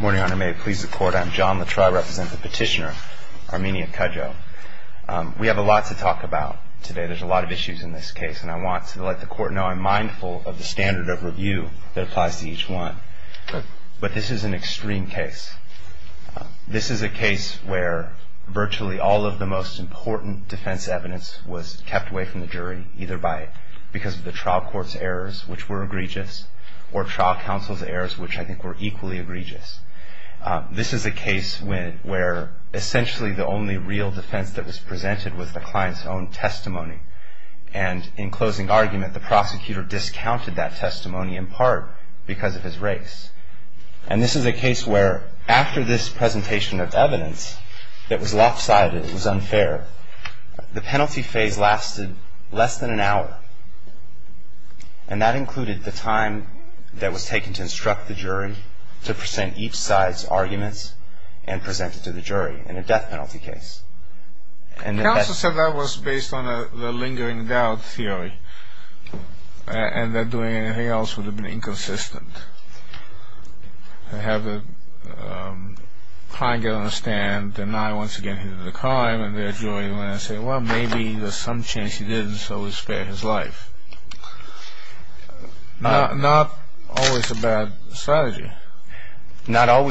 Morning, Your Honor. May it please the Court, I'm John LaTreuil, representing the petitioner, Armenia Cudjo. We have a lot to talk about today. There's a lot of issues in this case, and I want to let the Court know I'm mindful of the standard of review that applies to each one. But this is an extreme case. This is a case where virtually all of the most important defense evidence was kept away from the jury, either because of the trial court's errors, which were egregious, or trial counsel's errors, which I think were equally egregious. This is a case where essentially the only real defense that was presented was the client's own testimony. And in closing argument, the prosecutor discounted that testimony in part because of his race. And this is a case where after this presentation of evidence that was lopsided, it was unfair, the penalty phase lasted less than an hour. And that included the time that was taken to instruct the jury to present each side's arguments and present it to the jury in a death penalty case. Counsel said that was based on the lingering doubt theory, and that doing anything else would have been inconsistent. I have a client get on a stand, and I once again hit him to the car, and there's a jury, and I say, well, maybe there's some chance he didn't, so we spare his life. Not always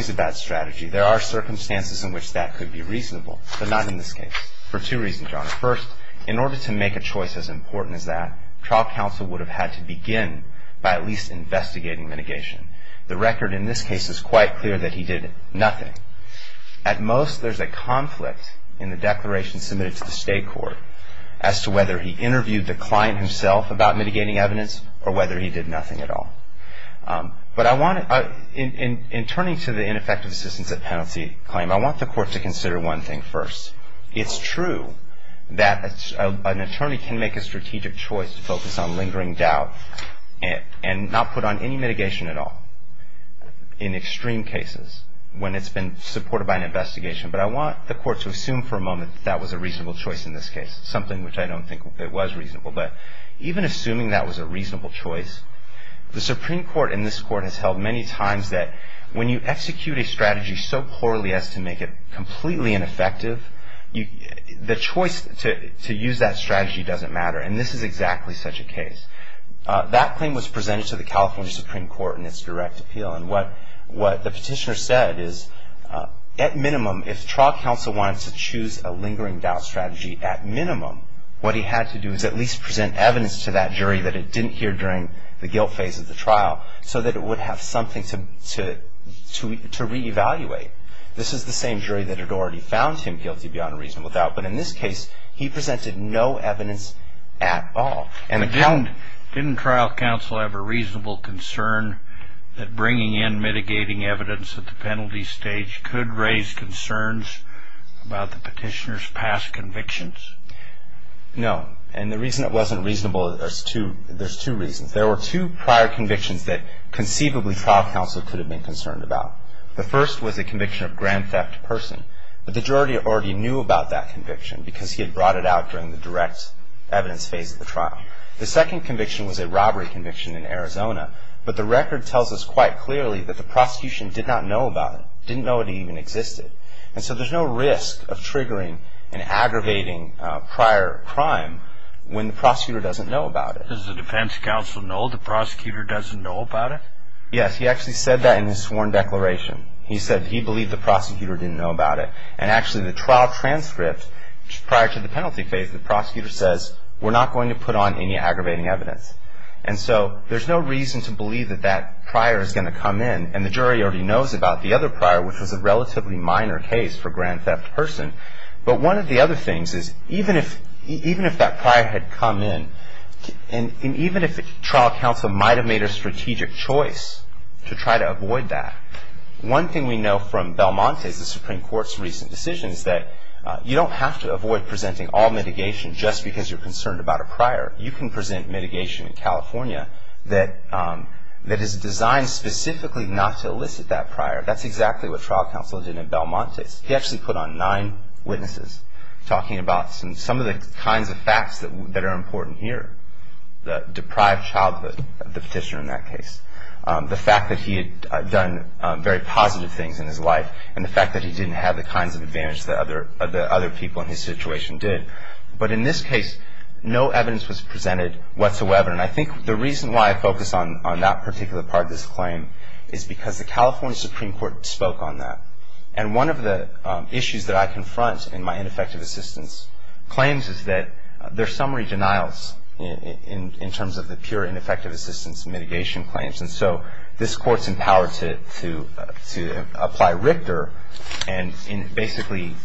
a bad strategy. There are circumstances in which that could be reasonable, but not in this case, for two reasons, John. First, in order to make a choice as important as that, trial counsel would have had to begin by at least investigating mitigation. The record in this case is quite clear that he did nothing. At most, there's a conflict in the declaration submitted to the state court as to whether he interviewed the client himself about mitigating evidence or whether he did nothing at all. But in turning to the ineffective assistance at penalty claim, I want the court to consider one thing first. It's true that an attorney can make a strategic choice to focus on lingering doubt and not put on any mitigation at all in extreme cases when it's been supported by an investigation, but I want the court to assume for a moment that that was a reasonable choice in this case, something which I don't think it was reasonable. But even assuming that was a reasonable choice, the Supreme Court in this court has held many times that when you execute a strategy so poorly as to make it completely ineffective, the choice to use that strategy doesn't matter, and this is exactly such a case. That claim was presented to the California Supreme Court in its direct appeal, and what the petitioner said is at minimum, if trial counsel wanted to choose a lingering doubt strategy at minimum, what he had to do is at least present evidence to that jury that it didn't hear during the guilt phase of the trial so that it would have something to reevaluate. This is the same jury that had already found him guilty beyond a reasonable doubt, but in this case, he presented no evidence at all. Didn't trial counsel have a reasonable concern that bringing in mitigating evidence at the penalty stage could raise concerns about the petitioner's past convictions? No, and the reason it wasn't reasonable, there's two reasons. There were two prior convictions that conceivably trial counsel could have been concerned about. The first was a conviction of grand theft of person, but the jury already knew about that conviction because he had brought it out during the direct evidence phase of the trial. The second conviction was a robbery conviction in Arizona, but the record tells us quite clearly that the prosecution did not know about it, didn't know it even existed, and so there's no risk of triggering an aggravating prior crime when the prosecutor doesn't know about it. Does the defense counsel know the prosecutor doesn't know about it? Yes, he actually said that in his sworn declaration. He said he believed the prosecutor didn't know about it, and actually the trial transcript prior to the penalty phase, the prosecutor says, we're not going to put on any aggravating evidence. And so there's no reason to believe that that prior is going to come in, and the jury already knows about the other prior, which was a relatively minor case for grand theft of person, but one of the other things is even if that prior had come in, and even if trial counsel might have made a strategic choice to try to avoid that, one thing we know from Belmontes, the Supreme Court's recent decision, is that you don't have to avoid presenting all mitigation just because you're concerned about a prior. You can present mitigation in California that is designed specifically not to elicit that prior. That's exactly what trial counsel did in Belmontes. He actually put on nine witnesses talking about some of the kinds of facts that are important here, the deprived childhood of the petitioner in that case, the fact that he had done very positive things in his life, and the fact that he didn't have the kinds of advantage that other people in his situation did. But in this case, no evidence was presented whatsoever, and I think the reason why I focus on that particular part of this claim is because the California Supreme Court spoke on that. And one of the issues that I confront in my ineffective assistance claims is that there are summary denials in terms of the pure ineffective assistance mitigation claims, and so this Court's empowered to apply Richter and basically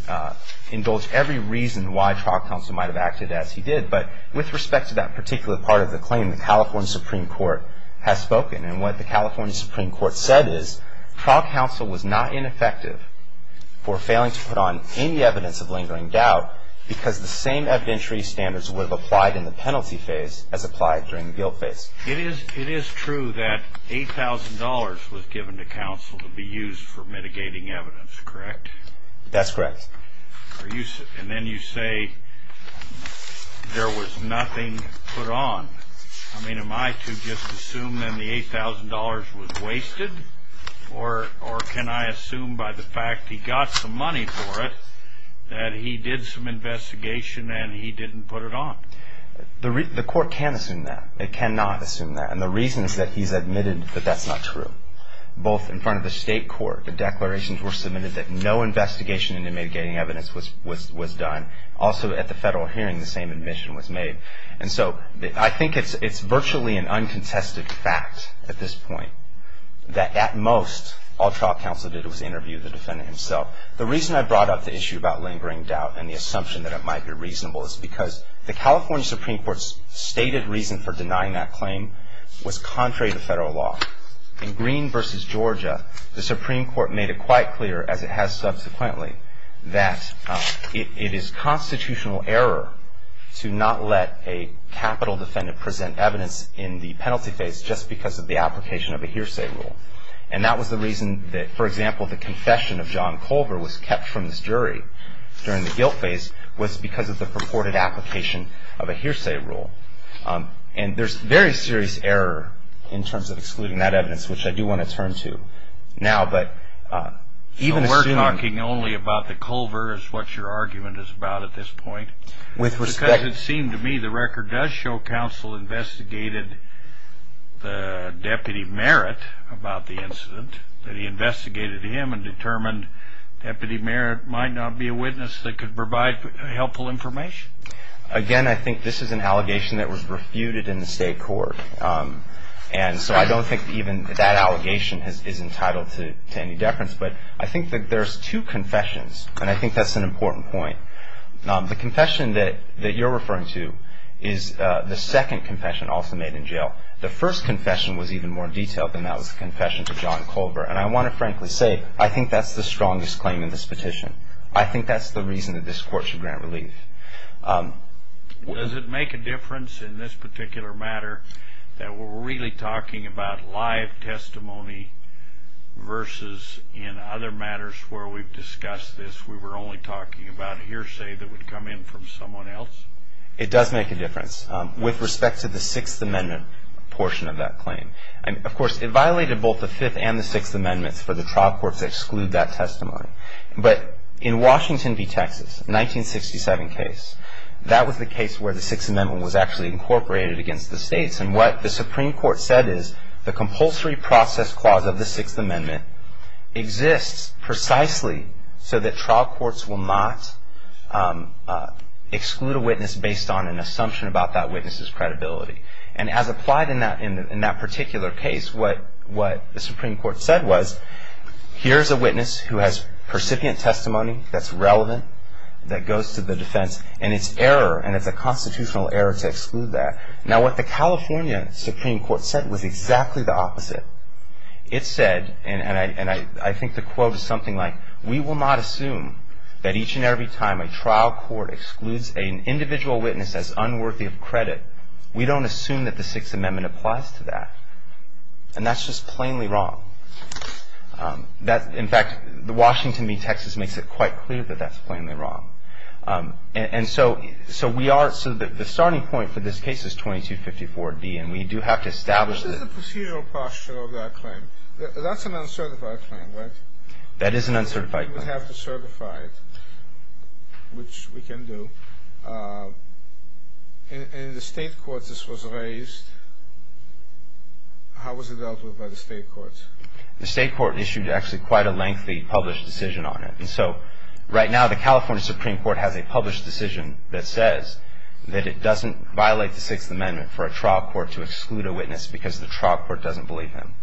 indulge every reason why trial counsel might have acted as he did. But with respect to that particular part of the claim, the California Supreme Court has spoken, and what the California Supreme Court said is trial counsel was not ineffective for failing to put on any evidence of lingering doubt because the same evidentiary standards would have applied in the penalty phase as applied during the guilt phase. It is true that $8,000 was given to counsel to be used for mitigating evidence, correct? That's correct. And then you say there was nothing put on. I mean, am I to just assume then the $8,000 was wasted, or can I assume by the fact he got some money for it that he did some investigation and he didn't put it on? The Court can assume that. It cannot assume that, and the reason is that he's admitted that that's not true. Both in front of the state court, the declarations were submitted that no investigation into mitigating evidence was done. Also, at the federal hearing, the same admission was made. And so I think it's virtually an uncontested fact at this point that at most all trial counsel did was interview the defendant himself. The reason I brought up the issue about lingering doubt and the assumption that it might be reasonable is because the California Supreme Court's stated reason for denying that claim was contrary to federal law. In Green v. Georgia, the Supreme Court made it quite clear, as it has subsequently, that it is constitutional error to not let a capital defendant present evidence in the penalty phase just because of the application of a hearsay rule. And that was the reason that, for example, the confession of John Culver was kept from this jury during the guilt phase was because of the purported application of a hearsay rule. And there's very serious error in terms of excluding that evidence, which I do want to turn to now. We're talking only about the Culver is what your argument is about at this point. Because it seemed to me the record does show counsel investigated the deputy merit about the incident, that he investigated him and determined deputy merit might not be a witness that could provide helpful information. Again, I think this is an allegation that was refuted in the state court. And so I don't think even that allegation is entitled to any deference. But I think that there's two confessions, and I think that's an important point. The confession that you're referring to is the second confession also made in jail. The first confession was even more detailed than that was the confession to John Culver. And I want to frankly say I think that's the strongest claim in this petition. I think that's the reason that this court should grant relief. Does it make a difference in this particular matter that we're really talking about live testimony versus in other matters where we've discussed this, we were only talking about a hearsay that would come in from someone else? It does make a difference with respect to the Sixth Amendment portion of that claim. Of course, it violated both the Fifth and the Sixth Amendments for the trial court to exclude that testimony. But in Washington v. Texas, 1967 case, that was the case where the Sixth Amendment was actually incorporated against the states. And what the Supreme Court said is the compulsory process clause of the Sixth Amendment exists precisely so that trial courts will not exclude a witness based on an assumption about that witness's credibility. And as applied in that particular case, what the Supreme Court said was, here's a witness who has percipient testimony that's relevant, that goes to the defense, and it's error, and it's a constitutional error to exclude that. Now, what the California Supreme Court said was exactly the opposite. It said, and I think the quote is something like, we will not assume that each and every time a trial court excludes an individual witness as unworthy of credit, we don't assume that the Sixth Amendment applies to that. And that's just plainly wrong. That, in fact, Washington v. Texas makes it quite clear that that's plainly wrong. And so we are, so the starting point for this case is 2254B, and we do have to establish that. This is a procedural posture of that claim. That's an uncertified claim, right? That is an uncertified claim. We would have to certify it, which we can do. And in the state courts this was raised. How was it dealt with by the state courts? The state court issued actually quite a lengthy published decision on it. And so right now the California Supreme Court has a published decision that says that it doesn't violate the Sixth Amendment for a trial court to exclude a witness because the trial court doesn't believe him,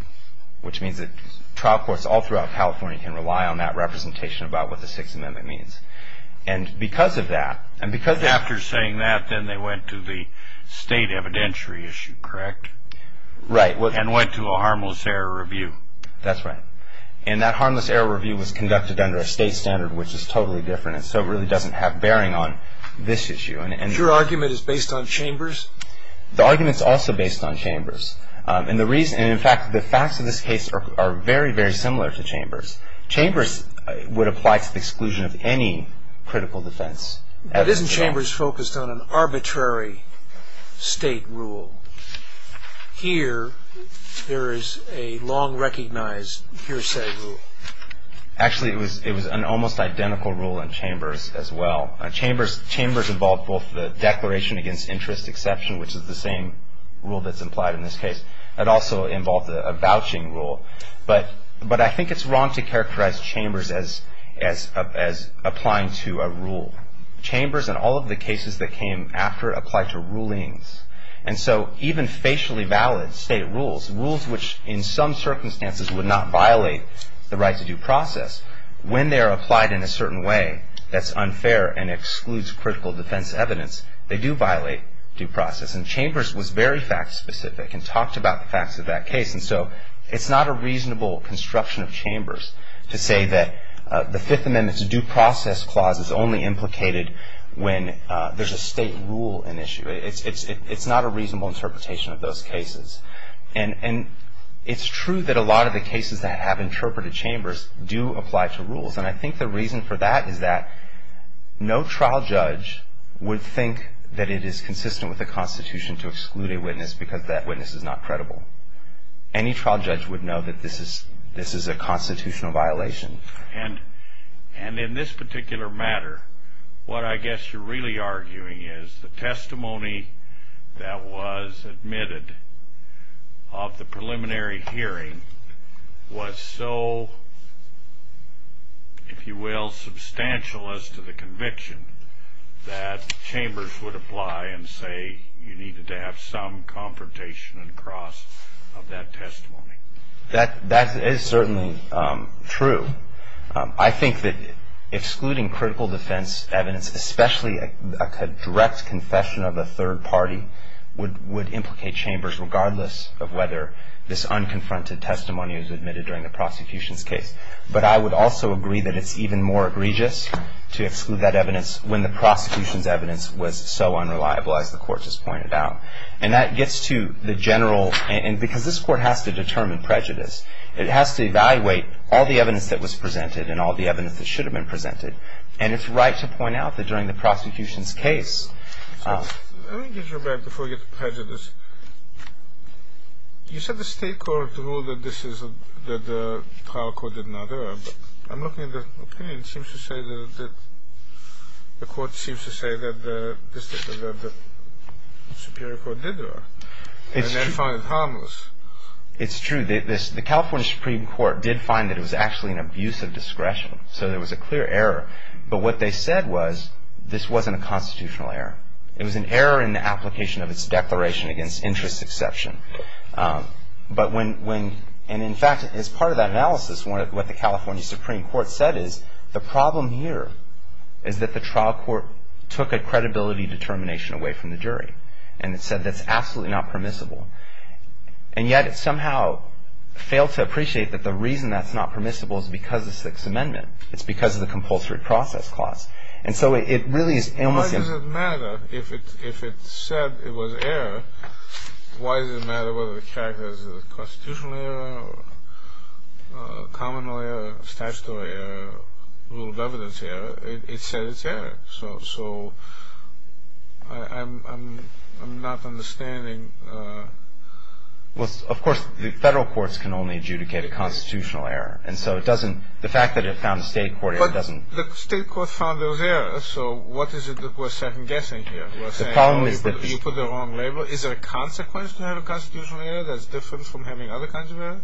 which means that trial courts all throughout California can rely on that representation about what the Sixth Amendment means. And because of that, and because of that. After saying that, then they went to the state evidentiary issue, correct? Right. And went to a harmless error review. That's right. And that harmless error review was conducted under a state standard, which is totally different. And so it really doesn't have bearing on this issue. And your argument is based on Chambers? The argument is also based on Chambers. Chambers would apply to the exclusion of any critical defense. But isn't Chambers focused on an arbitrary state rule? Here, there is a long recognized hearsay rule. Actually, it was an almost identical rule in Chambers as well. Chambers involved both the declaration against interest exception, which is the same rule that's implied in this case. It also involved a vouching rule. But I think it's wrong to characterize Chambers as applying to a rule. Chambers and all of the cases that came after applied to rulings. And so even facially valid state rules, rules which in some circumstances would not violate the right to due process, when they are applied in a certain way that's unfair and excludes critical defense evidence, they do violate due process. And Chambers was very fact specific and talked about the facts of that case. And so it's not a reasonable construction of Chambers to say that the Fifth Amendment's due process clause is only implicated when there's a state rule in issue. It's not a reasonable interpretation of those cases. And it's true that a lot of the cases that have interpreted Chambers do apply to rules. And I think the reason for that is that no trial judge would think that it is consistent with the Constitution to exclude a witness because that witness is not credible. Any trial judge would know that this is a constitutional violation. And in this particular matter, what I guess you're really arguing is the testimony that was admitted of the preliminary hearing was so, if you will, substantial as to the conviction, that Chambers would apply and say you needed to have some confrontation and cross of that testimony. That is certainly true. I think that excluding critical defense evidence, especially a direct confession of a third party would implicate Chambers, regardless of whether this unconfronted testimony was admitted during the prosecution's case. But I would also agree that it's even more egregious to exclude that evidence when the prosecution's evidence was so unreliable, as the Court has pointed out. And that gets to the general, and because this Court has to determine prejudice, it has to evaluate all the evidence that was presented and all the evidence that should have been presented. And it's right to point out that during the prosecution's case. Let me get your back before you get to prejudice. You said the State Court ruled that the trial court did not err. I'm looking at the opinion. It seems to say that the Court seems to say that the Superior Court did err. And then find it harmless. It's true. The California Supreme Court did find that it was actually an abuse of discretion. So there was a clear error. But what they said was, this wasn't a constitutional error. It was an error in the application of its Declaration Against Interest Exception. And in fact, as part of that analysis, what the California Supreme Court said is, the problem here is that the trial court took a credibility determination away from the jury. And it said that's absolutely not permissible. And yet it somehow failed to appreciate that the reason that's not permissible is because of the Sixth Amendment. It's because of the compulsory process clause. And so it really is almost an error. Why does it matter? If it said it was error, why does it matter whether the character is a constitutional error or a common law error, statutory error, rule of evidence error? It said it's error. So I'm not understanding. Well, of course, the federal courts can only adjudicate a constitutional error. And so it doesn't – the fact that it found a state court doesn't – But the state court found those errors. So what is it that we're second-guessing here? We're saying, oh, you put the wrong label. Is there a consequence to have a constitutional error that's different from having other kinds of error?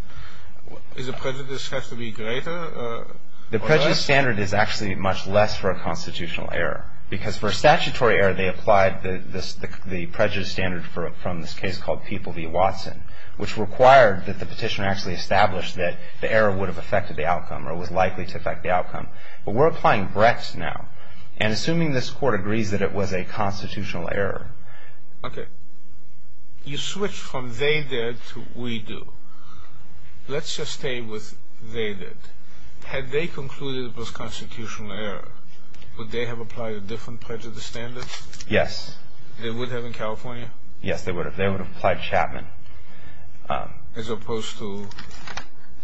Does the prejudice have to be greater or less? The prejudice standard is actually much less for a constitutional error. Because for a statutory error, they applied the prejudice standard from this case called People v. Watson, which required that the petitioner actually establish that the error would have affected the outcome or was likely to affect the outcome. But we're applying Brex now. And assuming this court agrees that it was a constitutional error. Okay. You switched from they did to we do. Let's just stay with they did. Had they concluded it was a constitutional error, would they have applied a different prejudice standard? Yes. They would have in California? Yes, they would have. They would have applied Chapman. As opposed to?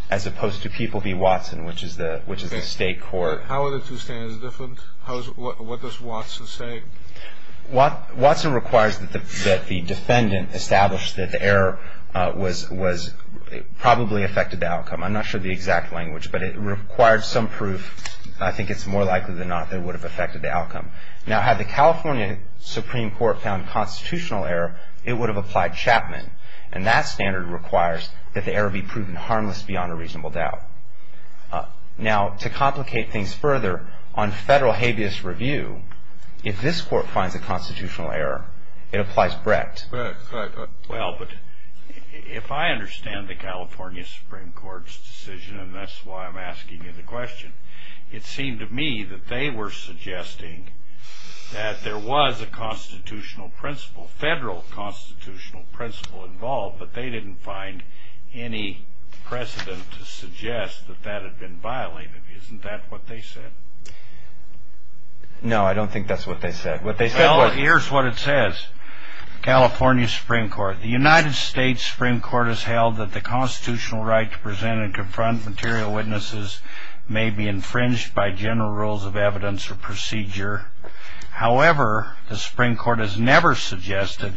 As opposed to People v. Watson, which is the state court. How are the two standards different? What does Watson say? Watson requires that the defendant establish that the error was probably affected the outcome. I'm not sure of the exact language, but it required some proof. Now, had the California Supreme Court found constitutional error, it would have applied Chapman. And that standard requires that the error be proven harmless beyond a reasonable doubt. Now, to complicate things further, on federal habeas review, if this court finds a constitutional error, it applies Brecht. Well, but if I understand the California Supreme Court's decision, and that's why I'm asking you the question, it seemed to me that they were suggesting that there was a constitutional principle, federal constitutional principle involved, but they didn't find any precedent to suggest that that had been violated. Isn't that what they said? No, I don't think that's what they said. Here's what it says. California Supreme Court. The United States Supreme Court has held that the constitutional right to present and confront material witnesses may be infringed by general rules of evidence or procedure. However, the Supreme Court has never suggested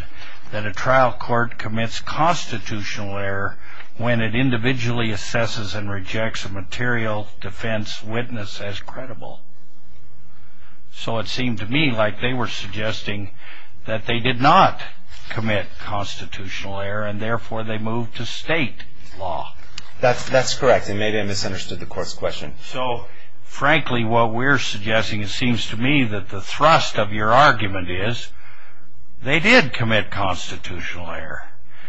that a trial court commits constitutional error when it individually assesses and rejects a material defense witness as credible. So it seemed to me like they were suggesting that they did not commit constitutional error, and therefore they moved to state law. That's correct. And maybe I misunderstood the court's question. So, frankly, what we're suggesting, it seems to me that the thrust of your argument is they did commit constitutional error.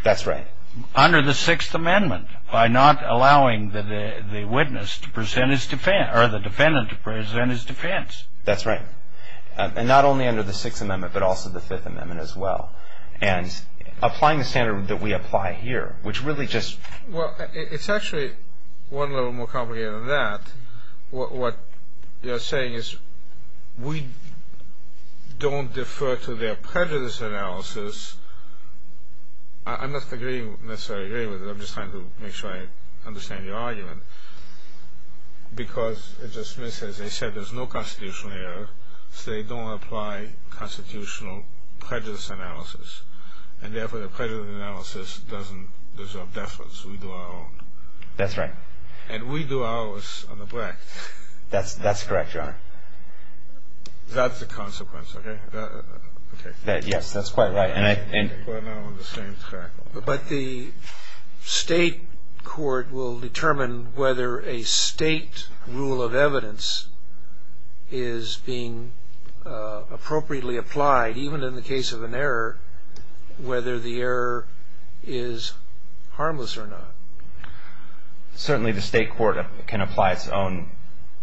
That's right. Under the Sixth Amendment, by not allowing the witness to present his defense, or the defendant to present his defense. That's right. And not only under the Sixth Amendment, but also the Fifth Amendment as well. And applying the standard that we apply here, which really just... Well, it's actually one level more complicated than that. What you're saying is we don't defer to their prejudice analysis. I'm not necessarily agreeing with it. I'm just trying to make sure I understand your argument. Because it just makes sense. They said there's no constitutional error, so they don't apply constitutional prejudice analysis. And therefore the prejudice analysis doesn't deserve deference. We do our own. That's right. And we do ours on the back. That's correct, Your Honor. That's the consequence, okay? Yes, that's quite right. But the state court will determine whether a state rule of evidence is being appropriately applied, even in the case of an error, whether the error is harmless or not. Certainly the state court can apply its own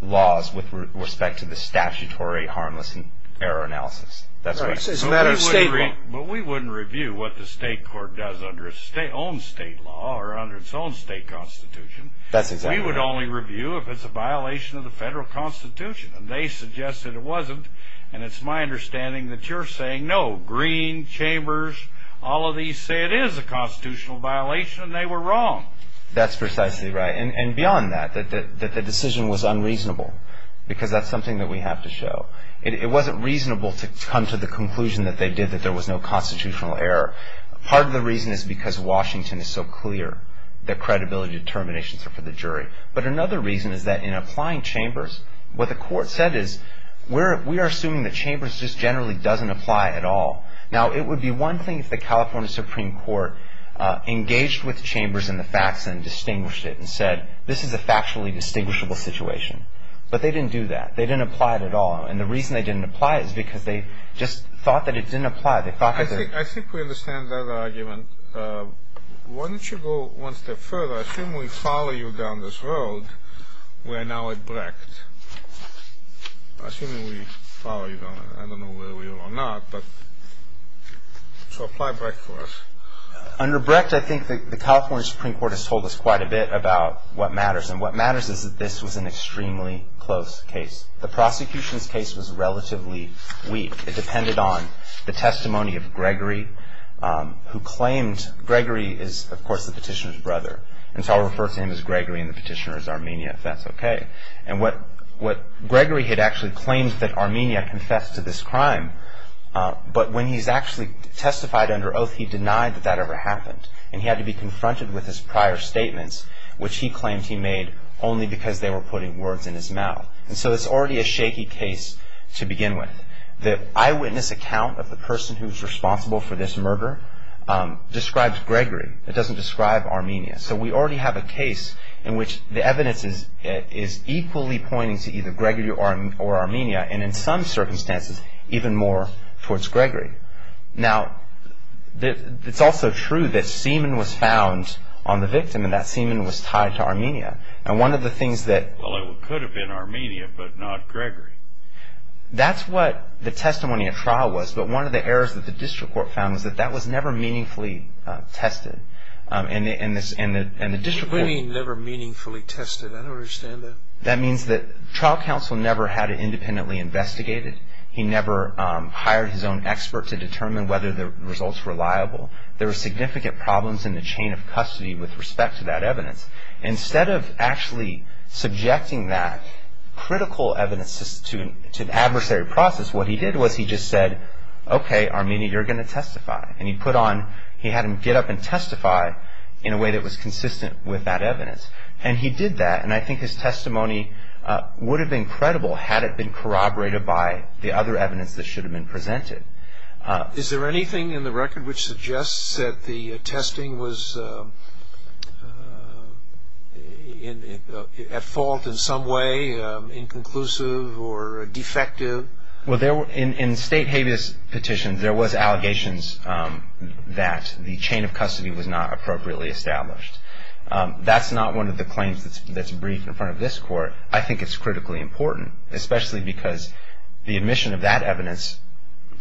laws with respect to the statutory harmless error analysis. That's right. But we wouldn't review what the state court does under its own state law or under its own state constitution. That's exactly right. We would only review if it's a violation of the federal constitution. And they suggested it wasn't. And it's my understanding that you're saying, no, Green, Chambers, all of these say it is a constitutional violation. They were wrong. That's precisely right. And beyond that, that the decision was unreasonable because that's something that we have to show. It wasn't reasonable to come to the conclusion that they did, that there was no constitutional error. Part of the reason is because Washington is so clear that credibility determinations are for the jury. But another reason is that in applying Chambers, what the court said is, we are assuming that Chambers just generally doesn't apply at all. Now, it would be one thing if the California Supreme Court engaged with Chambers in the facts and distinguished it and said, this is a factually distinguishable situation. But they didn't do that. They didn't apply it at all. And the reason they didn't apply it is because they just thought that it didn't apply. I think we understand that argument. Why don't you go one step further? Assuming we follow you down this road, we are now at Brecht. Assuming we follow you down, I don't know whether we will or not, but so apply Brecht for us. Under Brecht, I think the California Supreme Court has told us quite a bit about what matters. And what matters is that this was an extremely close case. The prosecution's case was relatively weak. It depended on the testimony of Gregory, who claimed Gregory is, of course, the petitioner's brother. And so I'll refer to him as Gregory and the petitioner as Armenia, if that's okay. And what Gregory had actually claimed that Armenia confessed to this crime, but when he's actually testified under oath, he denied that that ever happened. And he had to be confronted with his prior statements, which he claimed he made only because they were putting words in his mouth. And so it's already a shaky case to begin with. The eyewitness account of the person who's responsible for this murder describes Gregory. It doesn't describe Armenia. So we already have a case in which the evidence is equally pointing to either Gregory or Armenia, and in some circumstances, even more towards Gregory. Now, it's also true that semen was found on the victim, and that semen was tied to Armenia. And one of the things that- Well, it could have been Armenia, but not Gregory. That's what the testimony at trial was. But one of the errors that the district court found was that that was never meaningfully tested. And the district court- What do you mean never meaningfully tested? I don't understand that. That means that trial counsel never had it independently investigated. He never hired his own expert to determine whether the result's reliable. There were significant problems in the chain of custody with respect to that evidence. Instead of actually subjecting that critical evidence to an adversary process, what he did was he just said, okay, Armenia, you're going to testify. And he put on-he had him get up and testify in a way that was consistent with that evidence. And he did that, and I think his testimony would have been credible had it been corroborated by the other evidence that should have been presented. Is there anything in the record which suggests that the testing was at fault in some way, inconclusive or defective? Well, there were-in state habeas petitions, there was allegations that the chain of custody was not appropriately established. That's not one of the claims that's briefed in front of this court. I think it's critically important, especially because the admission of that evidence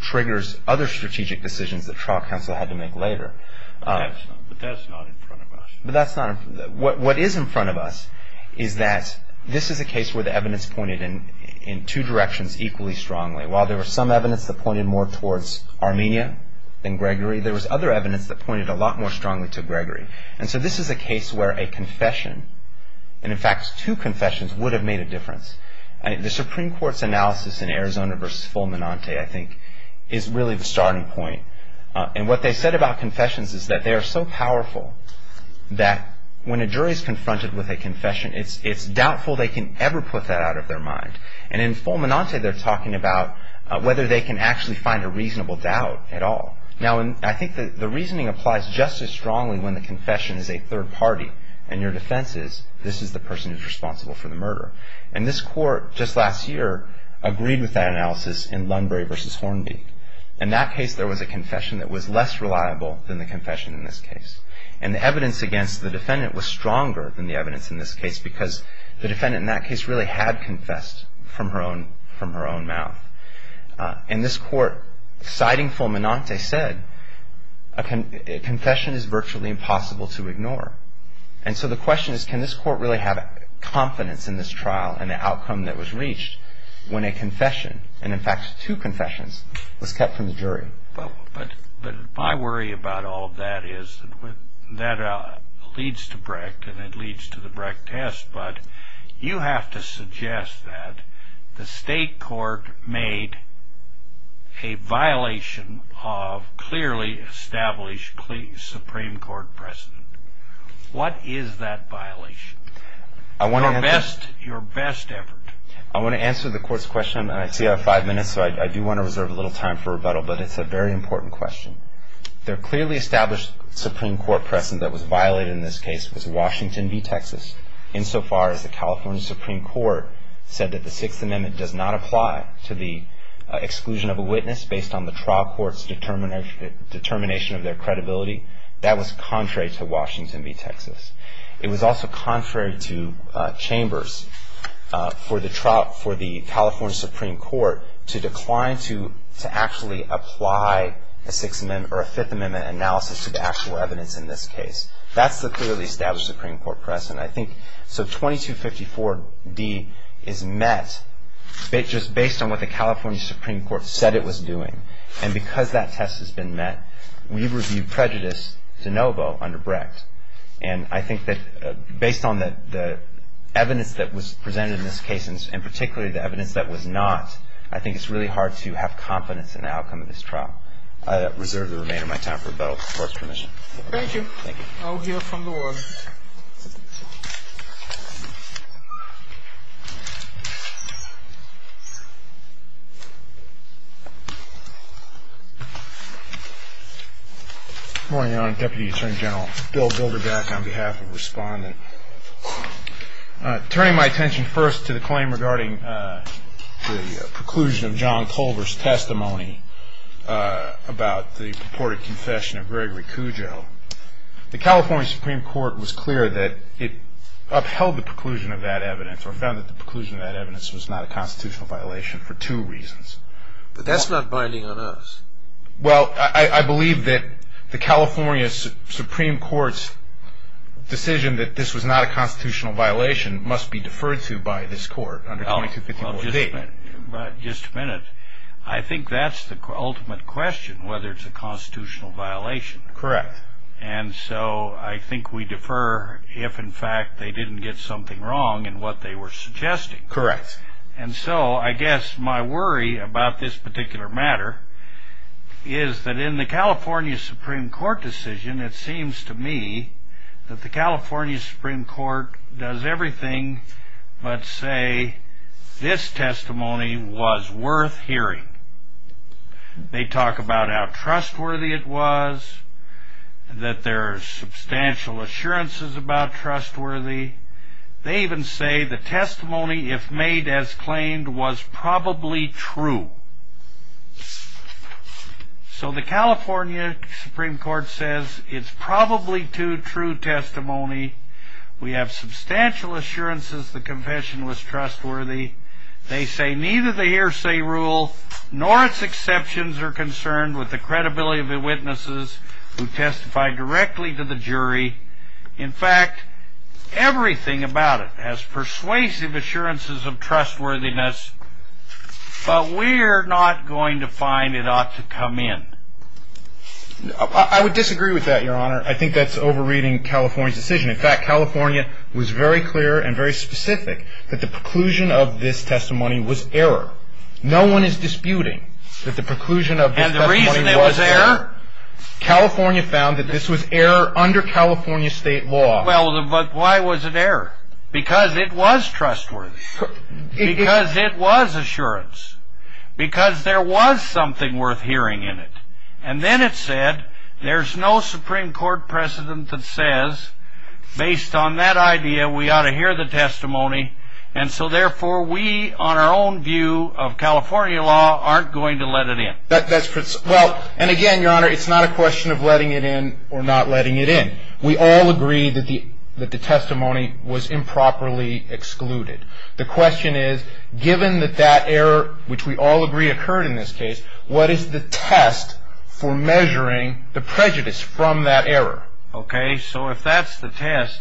triggers other strategic decisions that trial counsel had to make later. But that's not in front of us. But that's not-what is in front of us is that this is a case where the evidence pointed in two directions equally strongly. While there was some evidence that pointed more towards Armenia than Gregory, there was other evidence that pointed a lot more strongly to Gregory. And so this is a case where a confession, and in fact two confessions, would have made a difference. The Supreme Court's analysis in Arizona v. Fulminante, I think, is really the starting point. And what they said about confessions is that they are so powerful that when a jury is confronted with a confession, it's doubtful they can ever put that out of their mind. And in Fulminante, they're talking about whether they can actually find a reasonable doubt at all. Now, I think the reasoning applies just as strongly when the confession is a third party and your defense is this is the person who's responsible for the murder. And this court, just last year, agreed with that analysis in Lunbury v. Hornby. In that case, there was a confession that was less reliable than the confession in this case. And the evidence against the defendant was stronger than the evidence in this case because the defendant in that case really had confessed from her own mouth. And this court, citing Fulminante, said a confession is virtually impossible to ignore. And so the question is can this court really have confidence in this trial and the outcome that was reached when a confession, and in fact two confessions, was kept from the jury? But my worry about all of that is that leads to Brecht and it leads to the Brecht test. But you have to suggest that the state court made a violation of clearly established Supreme Court precedent. What is that violation? Your best effort. I want to answer the court's question. I see I have five minutes, so I do want to reserve a little time for rebuttal. But it's a very important question. Their clearly established Supreme Court precedent that was violated in this case was Washington v. Texas, insofar as the California Supreme Court said that the Sixth Amendment does not apply to the exclusion of a witness based on the trial court's determination of their credibility. That was contrary to Washington v. Texas. It was also contrary to chambers for the California Supreme Court to decline to actually apply a Fifth Amendment analysis to the actual evidence in this case. That's the clearly established Supreme Court precedent. So 2254D is met just based on what the California Supreme Court said it was doing. And because that test has been met, we review prejudice de novo under Brecht. And I think that based on the evidence that was presented in this case, and particularly the evidence that was not, I think it's really hard to have confidence in the outcome of this trial. I reserve the remainder of my time for rebuttal. Court's permission. Thank you. Thank you. I'll hear from the warden. Good morning, Your Honor. Deputy Attorney General Bill Bilderbach on behalf of Respondent. Turning my attention first to the claim regarding the preclusion of John Culver's testimony about the purported confession of Gregory Cujo, the California Supreme Court was clear that it upheld the preclusion of that evidence or found that the preclusion of that evidence was not a constitutional violation for two reasons. But that's not binding on us. Well, I believe that the California Supreme Court's decision that this was not a constitutional violation must be deferred to by this court under 2254D. Just a minute. I think that's the ultimate question, whether it's a constitutional violation. Correct. And so I think we defer if, in fact, they didn't get something wrong in what they were suggesting. Correct. And so I guess my worry about this particular matter is that in the California Supreme Court decision, it seems to me that the California Supreme Court does everything but say this testimony was worth hearing. They talk about how trustworthy it was, that there are substantial assurances about trustworthy. They even say the testimony, if made as claimed, was probably true. So the California Supreme Court says it's probably too true testimony. We have substantial assurances the confession was trustworthy. They say neither the hearsay rule nor its exceptions are concerned with the credibility of the witnesses who testified directly to the jury. In fact, everything about it has persuasive assurances of trustworthiness, but we're not going to find it ought to come in. I would disagree with that, Your Honor. I think that's overreading California's decision. In fact, California was very clear and very specific that the preclusion of this testimony was error. No one is disputing that the preclusion of this testimony was error. And the reason it was error? California found that this was error under California state law. Well, but why was it error? Because it was trustworthy. Because it was assurance. Because there was something worth hearing in it. And then it said there's no Supreme Court precedent that says, based on that idea, we ought to hear the testimony. And so, therefore, we, on our own view of California law, aren't going to let it in. Well, and again, Your Honor, it's not a question of letting it in or not letting it in. We all agree that the testimony was improperly excluded. The question is, given that that error, which we all agree occurred in this case, what is the test for measuring the prejudice from that error? Okay. So if that's the test,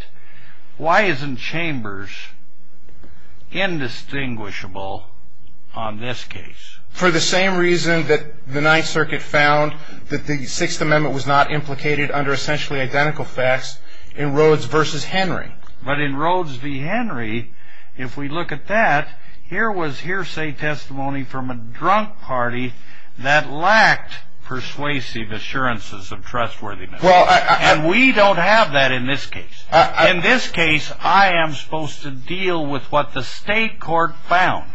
why isn't Chambers indistinguishable on this case? For the same reason that the Ninth Circuit found that the Sixth Amendment was not implicated under essentially identical facts in Rhodes v. Henry. But in Rhodes v. Henry, if we look at that, here was hearsay testimony from a drunk party that lacked persuasive assurances of trustworthiness. And we don't have that in this case. In this case, I am supposed to deal with what the state court found.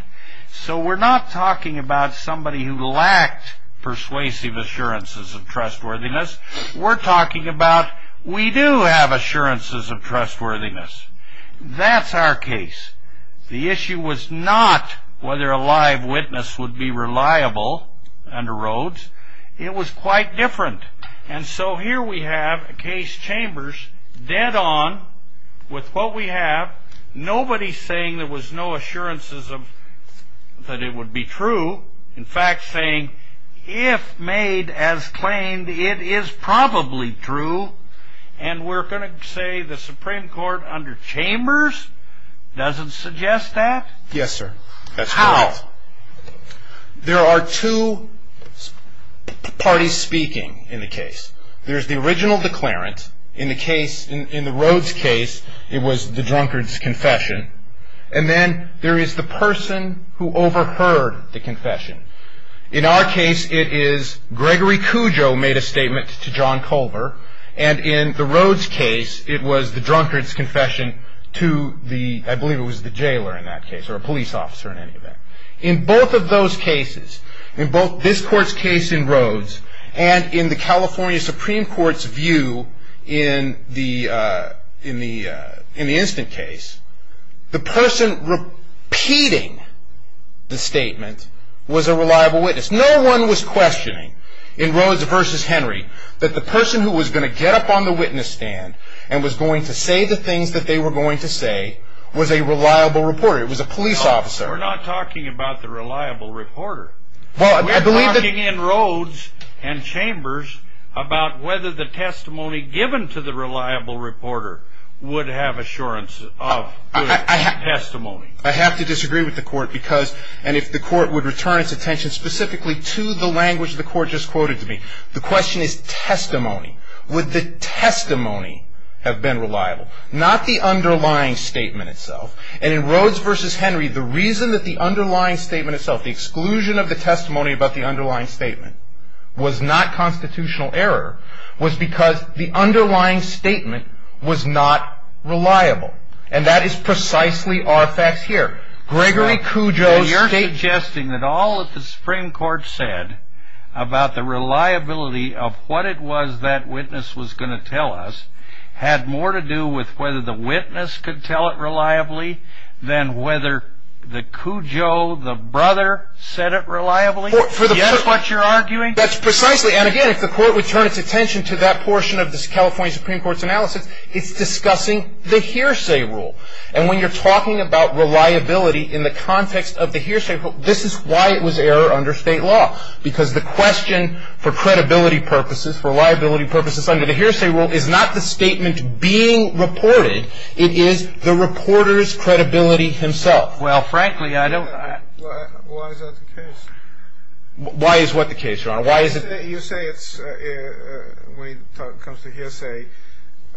So we're not talking about somebody who lacked persuasive assurances of trustworthiness. We're talking about we do have assurances of trustworthiness. That's our case. The issue was not whether a live witness would be reliable under Rhodes. It was quite different. And so here we have a case, Chambers, dead on with what we have, nobody saying there was no assurances that it would be true. In fact, saying, if made as claimed, it is probably true. And we're going to say the Supreme Court under Chambers doesn't suggest that? Yes, sir. How? There are two parties speaking in the case. There's the original declarant. In the case, in the Rhodes case, it was the drunkard's confession. And then there is the person who overheard the confession. In our case, it is Gregory Cujo made a statement to John Culver. And in the Rhodes case, it was the drunkard's confession to the, I believe it was the jailer in that case, or a police officer in any event. In both of those cases, in both this court's case in Rhodes and in the California Supreme Court's view in the instant case, the person repeating the statement was a reliable witness. No one was questioning in Rhodes v. Henry that the person who was going to get up on the witness stand and was going to say the things that they were going to say was a reliable reporter. It was a police officer. We're not talking about the reliable reporter. We're talking in Rhodes and Chambers about whether the testimony given to the reliable reporter would have assurance of good testimony. I have to disagree with the court because, and if the court would return its attention specifically to the language the court just quoted to me, the question is testimony. Would the testimony have been reliable? Not the underlying statement itself. And in Rhodes v. Henry, the reason that the underlying statement itself, the exclusion of the testimony about the underlying statement was not constitutional error was because the underlying statement was not reliable. And that is precisely our facts here. Gregory Cujo, you're suggesting that all that the Supreme Court said about the reliability of what it was that witness was going to tell us had more to do with whether the witness could tell it reliably than whether the Cujo, the brother, said it reliably? That's precisely, and again, if the court would turn its attention to that portion of this California Supreme Court's analysis, it's discussing the hearsay rule. And when you're talking about reliability in the context of the hearsay rule, this is why it was error under state law. Because the question for credibility purposes, for reliability purposes under the hearsay rule, is not the statement being reported. It is the reporter's credibility himself. Well, frankly, I don't... Why is that the case? Why is what the case, Your Honor? You say it's, when it comes to hearsay,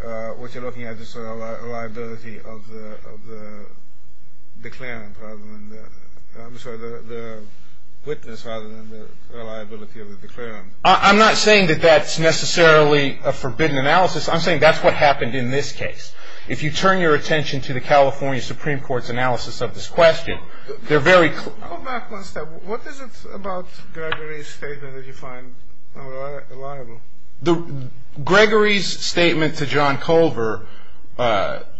what you're looking at is the reliability of the witness rather than the reliability of the declarant. I'm not saying that that's necessarily a forbidden analysis. I'm saying that's what happened in this case. If you turn your attention to the California Supreme Court's analysis of this question, they're very... Go back one step. What is it about Gregory's statement that you find reliable? Gregory's statement to John Culver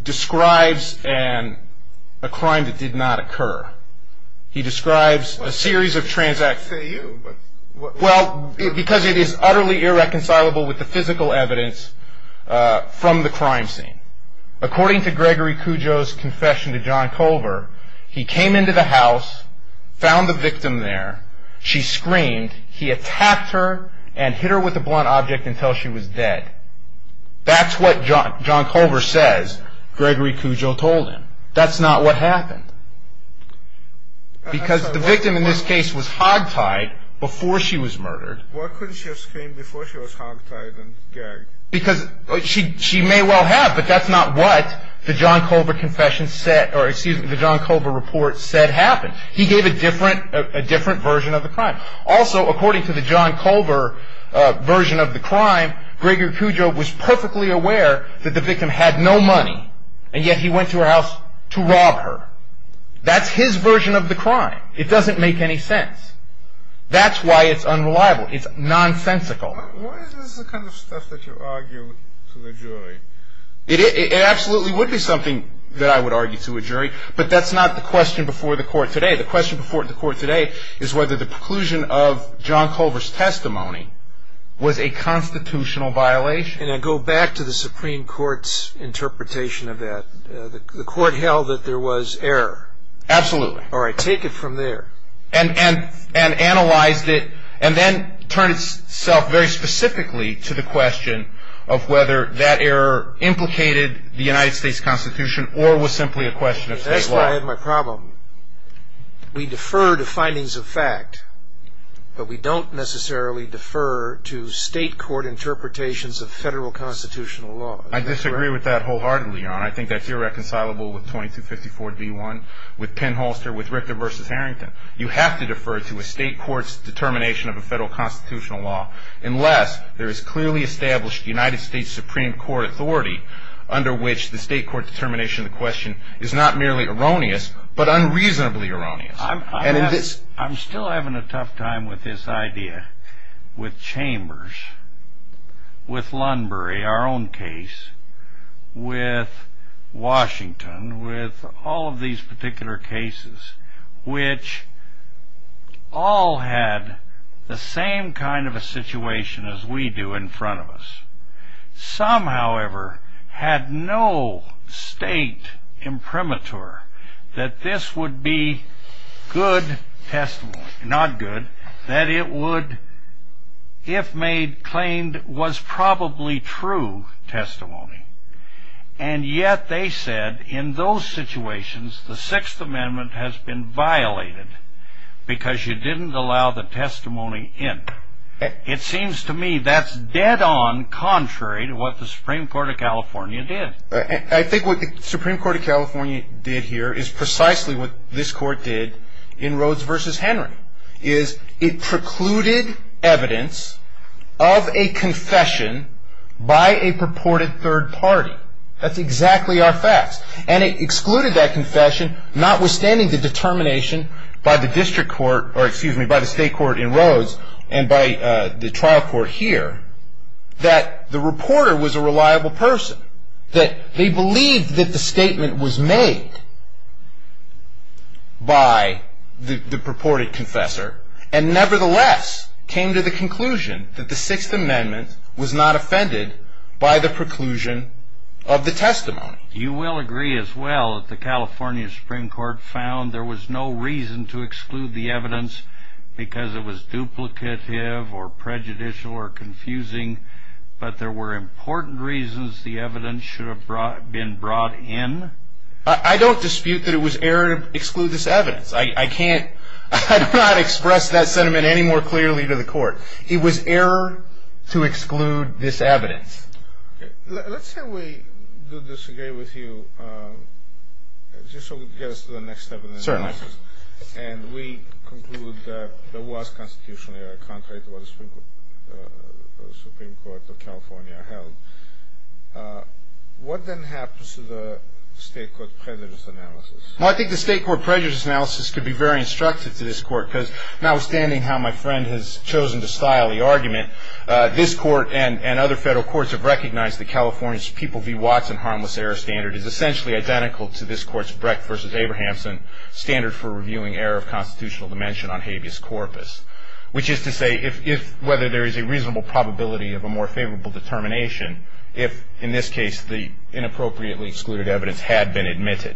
describes a crime that did not occur. He describes a series of transactions... I say you, but... Well, because it is utterly irreconcilable with the physical evidence from the crime scene. According to Gregory Cujo's confession to John Culver, he came into the house, found the victim there, she screamed, he attacked her, and hit her with a blunt object until she was dead. That's what John Culver says Gregory Cujo told him. That's not what happened. Because the victim in this case was hogtied before she was murdered. Why couldn't she have screamed before she was hogtied and gagged? Because she may well have, but that's not what the John Culver report said happened. He gave a different version of the crime. Also, according to the John Culver version of the crime, Gregory Cujo was perfectly aware that the victim had no money, and yet he went to her house to rob her. That's his version of the crime. It doesn't make any sense. That's why it's unreliable. It's nonsensical. Why is this the kind of stuff that you argue to the jury? It absolutely would be something that I would argue to a jury, but that's not the question before the court today. The question before the court today is whether the preclusion of John Culver's testimony was a constitutional violation. And I go back to the Supreme Court's interpretation of that. The court held that there was error. Absolutely. All right, take it from there. And analyzed it, and then turned itself very specifically to the question of whether that error implicated the United States Constitution or was simply a question of state law. That's where I had my problem. We defer to findings of fact, but we don't necessarily defer to state court interpretations of federal constitutional law. I disagree with that wholeheartedly, Your Honor. I think that's irreconcilable with 2254-D1, with Penn-Holster, with Richter v. Harrington. You have to defer to a state court's determination of a federal constitutional law unless there is clearly established United States Supreme Court authority under which the state court determination of the question is not merely erroneous, but unreasonably erroneous. I'm still having a tough time with this idea with Chambers, with Lunbury, our own case, with Washington, with all of these particular cases, which all had the same kind of a situation as we do in front of us. Some, however, had no state imprimatur that this would be good testimony. Not good. That it would, if made claimed, was probably true testimony. And yet they said, in those situations, the Sixth Amendment has been violated because you didn't allow the testimony in. It seems to me that's dead on contrary to what the Supreme Court of California did. I think what the Supreme Court of California did here is precisely what this court did in Rhodes v. Henry. It precluded evidence of a confession by a purported third party. That's exactly our facts. And it excluded that confession notwithstanding the determination by the state court in Rhodes and by the trial court here that the reporter was a reliable person. That they believed that the statement was made by the purported confessor and nevertheless came to the conclusion that the Sixth Amendment was not offended by the preclusion of the testimony. You will agree as well that the California Supreme Court found there was no reason to exclude the evidence because it was duplicative or prejudicial or confusing. But there were important reasons the evidence should have been brought in. I don't dispute that it was error to exclude this evidence. I cannot express that sentiment any more clearly to the court. It was error to exclude this evidence. Let's say we do this again with you just so we can get us to the next step in the analysis. Certainly. And we conclude that there was constitutionally a contract with the Supreme Court of California held. What then happens to the state court prejudice analysis? Well, I think the state court prejudice analysis could be very instructive to this court because notwithstanding how my friend has chosen to style the argument, this court and other federal courts have recognized that California's People v. Watson harmless error standard is essentially identical to this court's Brecht v. Abrahamsen standard for reviewing error of constitutional dimension on habeas corpus, which is to say whether there is a reasonable probability of a more favorable determination if, in this case, the inappropriately excluded evidence had been admitted.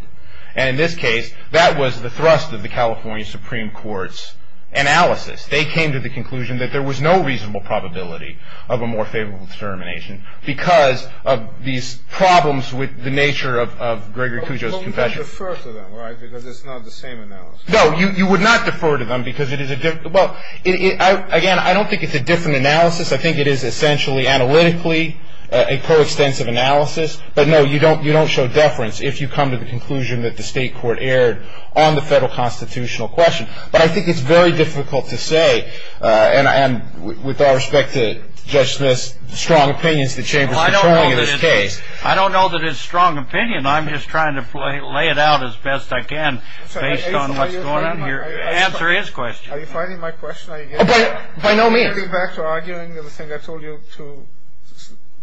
And in this case, that was the thrust of the California Supreme Court's analysis. They came to the conclusion that there was no reasonable probability of a more favorable determination because of these problems with the nature of Gregory Cujo's confession. You would defer to them, right, because it's not the same analysis? No, you would not defer to them because it is a different – well, again, I don't think it's a different analysis. I think it is essentially analytically a coextensive analysis. But, no, you don't show deference if you come to the conclusion that the state court erred on the federal constitutional question. But I think it's very difficult to say, and with all respect to Judge Smith's strong opinions the Chamber is controlling in this case. I don't know that it's strong opinion. I'm just trying to lay it out as best I can based on what's going on here. Answer his question. Are you fighting my question? By no means. Are you going to go back to arguing everything I told you to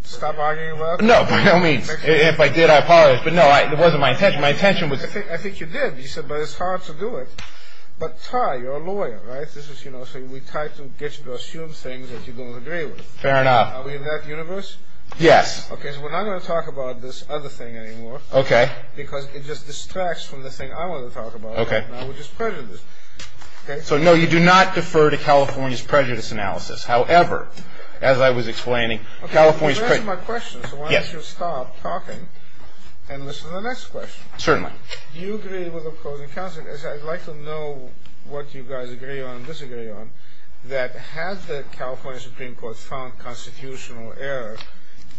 stop arguing about? No, by no means. If I did, I apologize. But, no, it wasn't my intention. My intention was – I think you did. You said, well, it's hard to do it. But, Ty, you're a lawyer, right? So we tried to get you to assume things that you don't agree with. Fair enough. Are we in that universe? Yes. Okay, so we're not going to talk about this other thing anymore. Okay. Because it just distracts from the thing I want to talk about right now, which is prejudice. Okay? So, no, you do not defer to California's prejudice analysis. However, as I was explaining, California's prejudice – Okay, you answered my question, so why don't you stop talking and listen to the next question. Certainly. Do you agree with the closing counsel? Because I'd like to know what you guys agree on and disagree on, that had the California Supreme Court found constitutional error,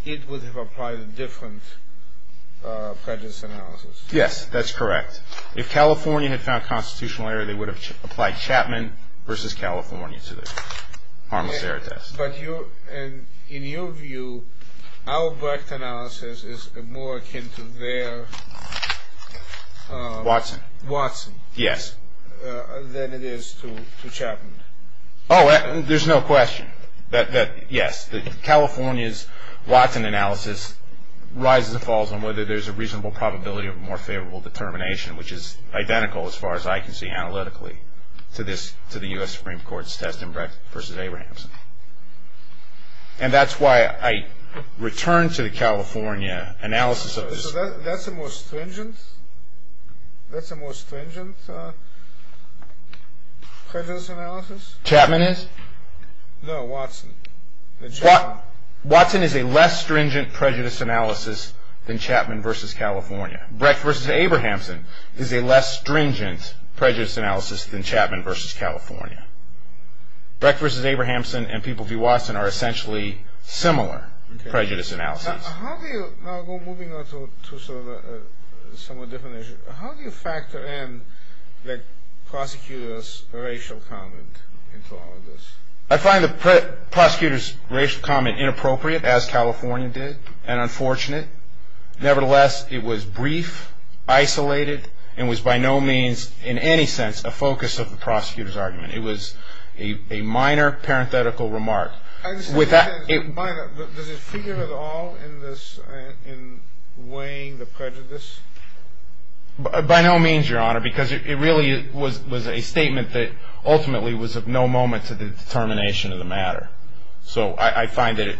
it would have applied a different prejudice analysis. Yes, that's correct. If California had found constitutional error, they would have applied Chapman versus California to the harmless error test. But in your view, our Brecht analysis is more akin to their – Watson. Watson. Yes. Than it is to Chapman. Oh, there's no question that, yes. California's Watson analysis rises and falls on whether there's a reasonable probability of a more favorable determination, which is identical, as far as I can see analytically, to the U.S. Supreme Court's test in Brecht versus Abrahamson. And that's why I return to the California analysis of – So that's a more stringent prejudice analysis? Chapman is? No, Watson. Watson is a less stringent prejudice analysis than Chapman versus California. Brecht versus Abrahamson is a less stringent prejudice analysis than Chapman versus California. Brecht versus Abrahamson and People v. Watson are essentially similar prejudice analyses. Moving on to a somewhat different issue, how do you factor in the prosecutor's racial comment into all of this? I find the prosecutor's racial comment inappropriate, as California did, and unfortunate. Nevertheless, it was brief, isolated, and was by no means in any sense a focus of the prosecutor's argument. It was a minor parenthetical remark. Does it figure at all in weighing the prejudice? By no means, Your Honor, because it really was a statement that ultimately was of no moment to the determination of the matter. So I find that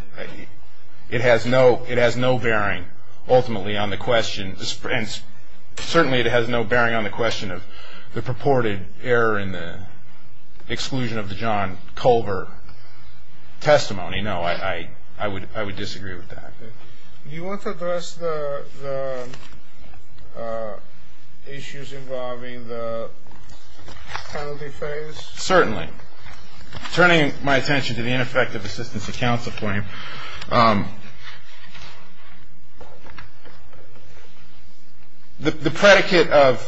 it has no bearing ultimately on the question, and certainly it has no bearing on the question of the purported error in the exclusion of the John Culver testimony. No, I would disagree with that. Do you want to address the issues involving the penalty phase? Certainly. Turning my attention to the ineffective assistance of counsel claim, the predicate of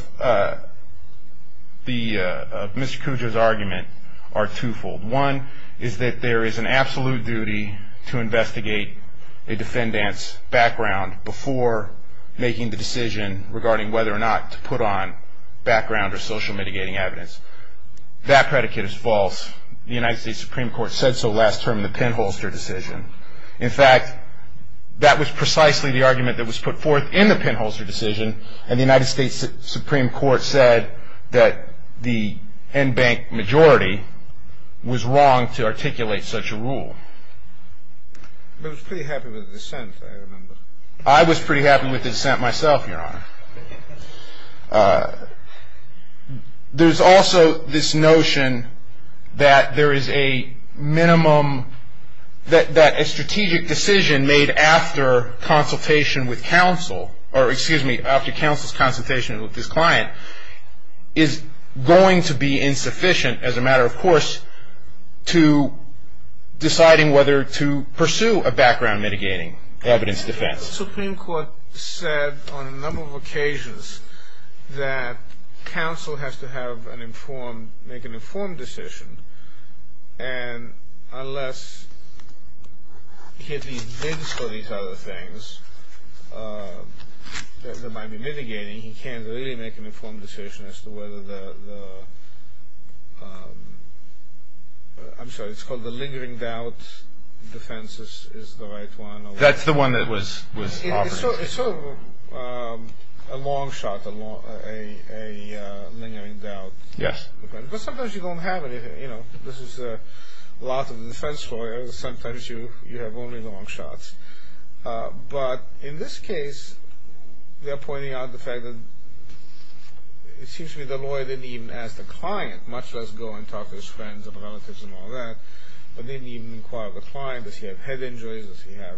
Mr. Cujo's argument are twofold. One is that there is an absolute duty to investigate a defendant's background before making the decision regarding whether or not to put on background or social mitigating evidence. That predicate is false. The United States Supreme Court said so last term in the pinholster decision. In fact, that was precisely the argument that was put forth in the pinholster decision, and the United States Supreme Court said that the en banc majority was wrong to articulate such a rule. But it was pretty happy with the dissent, I remember. I was pretty happy with the dissent myself, Your Honor. There's also this notion that there is a minimum, that a strategic decision made after consultation with counsel, or excuse me, after counsel's consultation with this client, is going to be insufficient as a matter, of course, to deciding whether to pursue a background mitigating evidence defense. The Supreme Court said on a number of occasions that counsel has to have an informed, make an informed decision, and unless he has these bids for these other things that might be mitigating, he can't really make an informed decision as to whether the, I'm sorry, it's called the lingering doubt defense is the right one. That's the one that was offered. It's sort of a long shot, a lingering doubt. Yes. But sometimes you don't have anything, you know. This is a lot of defense lawyers. Sometimes you have only long shots. But in this case, they're pointing out the fact that it seems to me the lawyer didn't even ask the client, much less go and talk to his friends and relatives and all that, but didn't even inquire with the client if he had head injuries, if he had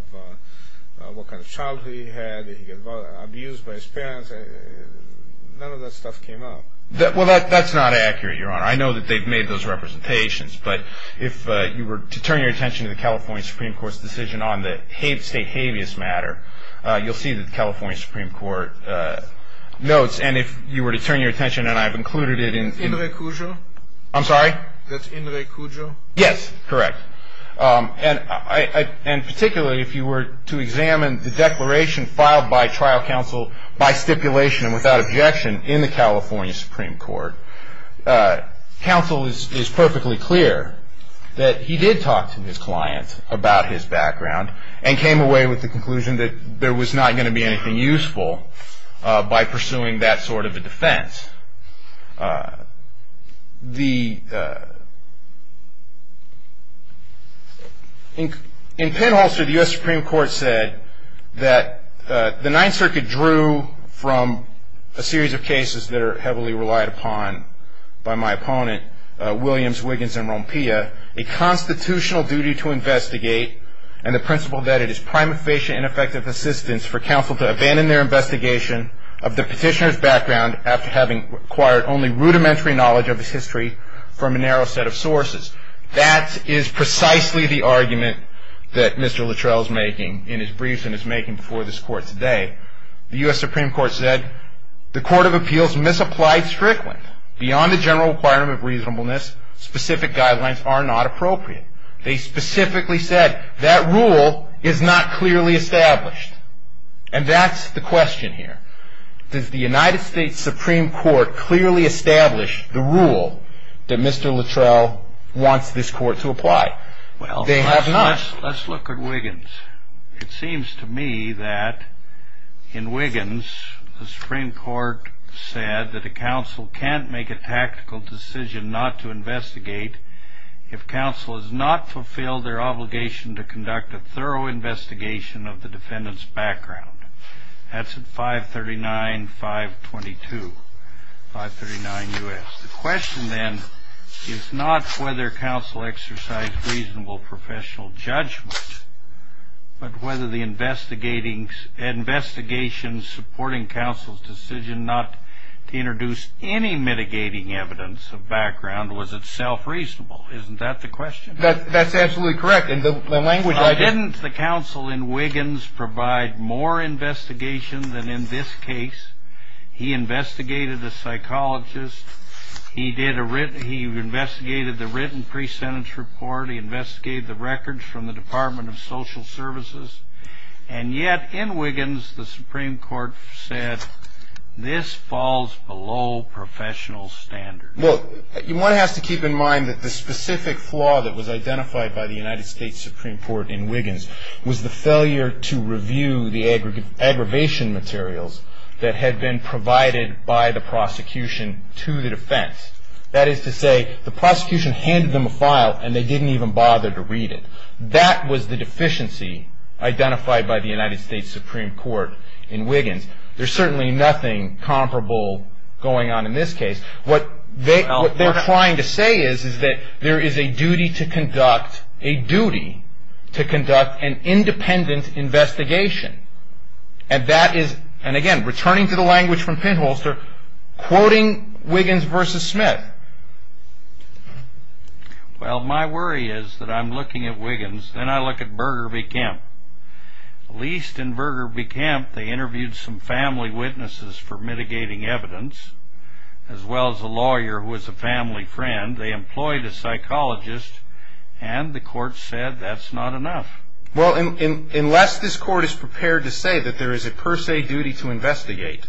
what kind of childhood he had, if he got abused by his parents. None of that stuff came up. Well, that's not accurate, Your Honor. I know that they've made those representations, but if you were to turn your attention to the California Supreme Court's decision on the state habeas matter, you'll see that the California Supreme Court notes, and if you were to turn your attention, and I've included it in the In Re Cujo? I'm sorry? That's In Re Cujo? Yes, correct. And particularly if you were to examine the declaration filed by trial counsel by stipulation and without objection in the California Supreme Court, counsel is perfectly clear that he did talk to his client about his background and came away with the conclusion that there was not going to be anything useful by pursuing that sort of a defense. In Penholster, the U.S. Supreme Court said that the Ninth Circuit drew from a series of cases that are heavily relied upon by my opponent, Williams, Wiggins, and Rompea, a constitutional duty to investigate and the principle that it is prima facie and effective assistance for counsel to abandon their investigation of the petitioner's background after having acquired only rudimentary knowledge of his history from a narrow set of sources. That is precisely the argument that Mr. Luttrell is making in his briefs and is making before this court today. The U.S. Supreme Court said, The court of appeals misapplied strictly. Beyond the general requirement of reasonableness, specific guidelines are not appropriate. They specifically said that rule is not clearly established. And that's the question here. Does the United States Supreme Court clearly establish the rule that Mr. Luttrell wants this court to apply? They have not. Let's look at Wiggins. It seems to me that in Wiggins, the Supreme Court said that a counsel can't make a tactical decision not to investigate if counsel has not fulfilled their obligation to conduct a thorough investigation of the defendant's background. That's at 539-522, 539 U.S. The question then is not whether counsel exercised reasonable professional judgment, but whether the investigation supporting counsel's decision not to introduce any mitigating evidence of background was itself reasonable. Isn't that the question? That's absolutely correct. Didn't the counsel in Wiggins provide more investigation than in this case? He investigated the psychologist. He investigated the written pre-sentence report. He investigated the records from the Department of Social Services. And yet in Wiggins, the Supreme Court said this falls below professional standards. Well, one has to keep in mind that the specific flaw that was identified by the United States Supreme Court in Wiggins was the failure to review the aggravation materials that had been provided by the prosecution to the defense. That is to say, the prosecution handed them a file, and they didn't even bother to read it. That was the deficiency identified by the United States Supreme Court in Wiggins. There's certainly nothing comparable going on in this case. What they're trying to say is that there is a duty to conduct an independent investigation. And that is, and again, returning to the language from Pinholster, quoting Wiggins v. Smith. Well, my worry is that I'm looking at Wiggins, then I look at Burger v. Kemp. At least in Burger v. Kemp, they interviewed some family witnesses for mitigating evidence, as well as a lawyer who was a family friend. They employed a psychologist, and the court said that's not enough. Well, unless this court is prepared to say that there is a per se duty to investigate,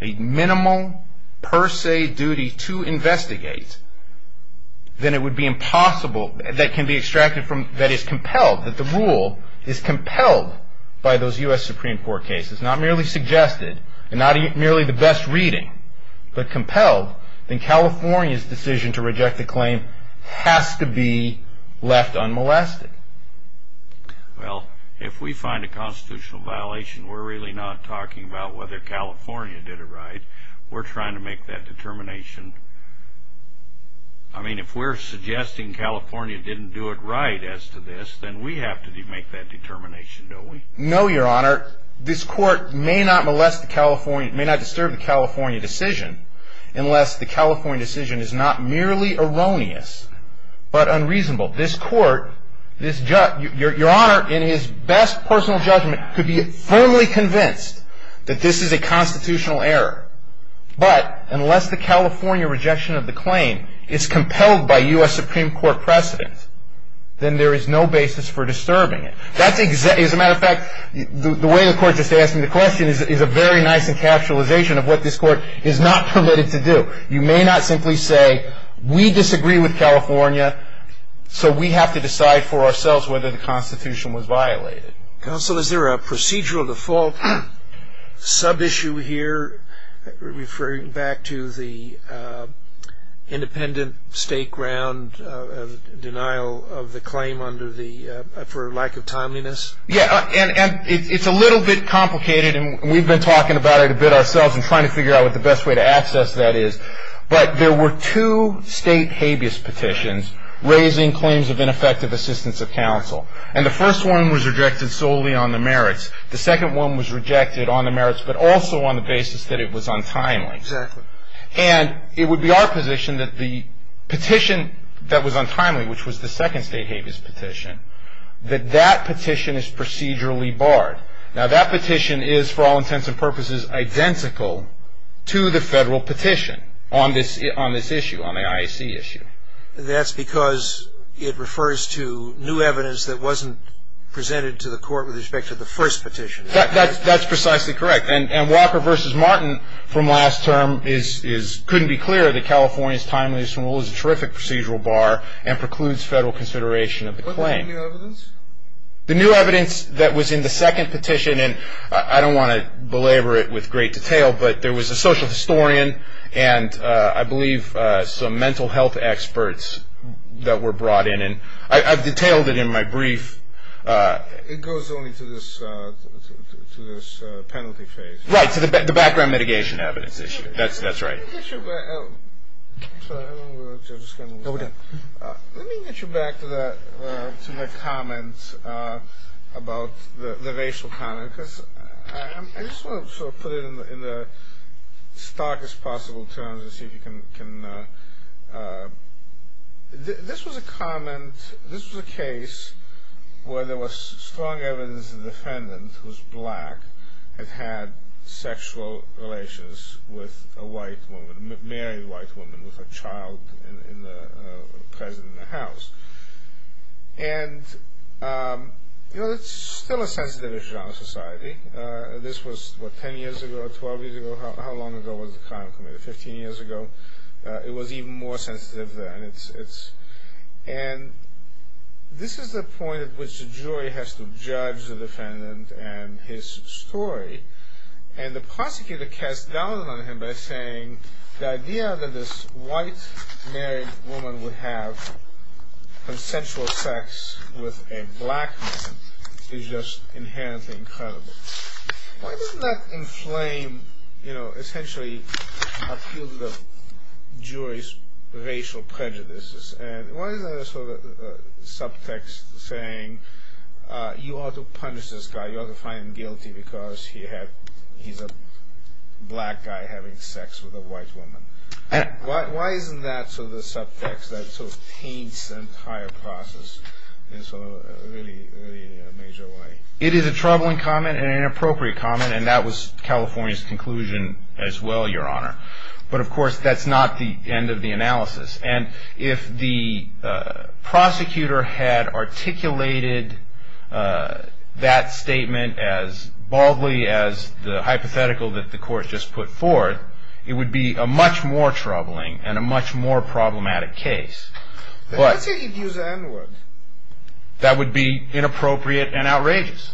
a minimal per se duty to investigate, then it would be impossible that can be extracted from, that is compelled, that the rule is compelled by those U.S. Supreme Court cases, not merely suggested and not merely the best reading, but compelled, then California's decision to reject the claim has to be left unmolested. Well, if we find a constitutional violation, we're really not talking about whether California did it right. We're trying to make that determination. I mean, if we're suggesting California didn't do it right as to this, then we have to make that determination, don't we? No, Your Honor. This court may not molest the California, may not disturb the California decision, unless the California decision is not merely erroneous, but unreasonable. This court, Your Honor, in his best personal judgment, could be firmly convinced that this is a constitutional error, but unless the California rejection of the claim is compelled by U.S. Supreme Court precedent, then there is no basis for disturbing it. As a matter of fact, the way the court just asked me the question is a very nice encapsulation of what this court is not permitted to do. You may not simply say, we disagree with California, so we have to decide for ourselves whether the Constitution was violated. Counsel, is there a procedural default sub-issue here, referring back to the independent state ground denial of the claim for lack of timeliness? Yeah, and it's a little bit complicated, and we've been talking about it a bit ourselves and trying to figure out what the best way to access that is. But there were two state habeas petitions raising claims of ineffective assistance of counsel. And the first one was rejected solely on the merits. The second one was rejected on the merits, but also on the basis that it was untimely. Exactly. And it would be our position that the petition that was untimely, which was the second state habeas petition, that that petition is procedurally barred. Now, that petition is, for all intents and purposes, identical to the federal petition on this issue, on the IAC issue. That's because it refers to new evidence that wasn't presented to the court with respect to the first petition. That's precisely correct. And Walker v. Martin from last term couldn't be clearer that California's timeliness rule is a terrific procedural bar and precludes federal consideration of the claim. What about the new evidence? The new evidence that was in the second petition, and I don't want to belabor it with great detail, but there was a social historian and I believe some mental health experts that were brought in. And I've detailed it in my brief. It goes only to this penalty phase. Right, to the background mitigation evidence issue. That's right. Let me get you back to my comments about the racial comment, because I just want to sort of put it in the starkest possible terms and see if you can... This was a comment, this was a case where there was strong evidence that the defendant, who's black, had had sexual relations with a white woman, married a white woman with a child present in the house. And, you know, it's still a sensitive issue in our society. This was, what, 10 years ago or 12 years ago? How long ago was the crime committed? 15 years ago? It was even more sensitive then. And this is the point at which the jury has to judge the defendant and his story. And the prosecutor casts doubt on him by saying the idea that this white married woman would have consensual sex with a black man is just inherently incredible. Why doesn't that inflame, you know, essentially appeal to the jury's racial prejudices? And why is there a sort of subtext saying you ought to punish this guy, you ought to find him guilty because he's a black guy having sex with a white woman? Why isn't that sort of the subtext that sort of paints the entire process in a really major way? It is a troubling comment and an inappropriate comment, and that was California's conclusion as well, Your Honor. But, of course, that's not the end of the analysis. And if the prosecutor had articulated that statement as baldly as the hypothetical that the court just put forth, it would be a much more troubling and a much more problematic case. But let's say he gives the N-word. That would be inappropriate and outrageous.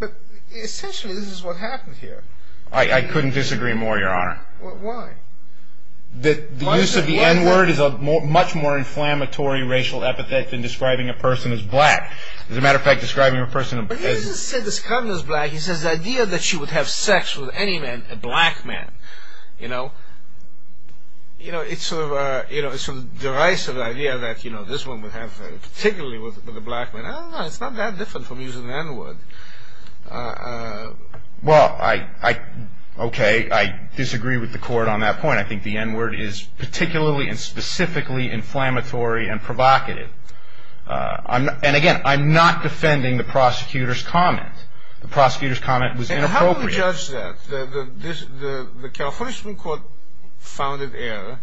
But essentially this is what happened here. I couldn't disagree more, Your Honor. Why? The use of the N-word is a much more inflammatory racial epithet than describing a person as black. As a matter of fact, describing a person as... But he doesn't say this woman is black. He says the idea that she would have sex with any man, a black man, you know, you know, it's sort of a derisive idea that, you know, this woman would have sex particularly with a black man. I don't know. It's not that different from using the N-word. Well, I... Okay, I disagree with the court on that point. I think the N-word is particularly and specifically inflammatory and provocative. And, again, I'm not defending the prosecutor's comment. The prosecutor's comment was inappropriate. And how do you judge that? The California Supreme Court found it error.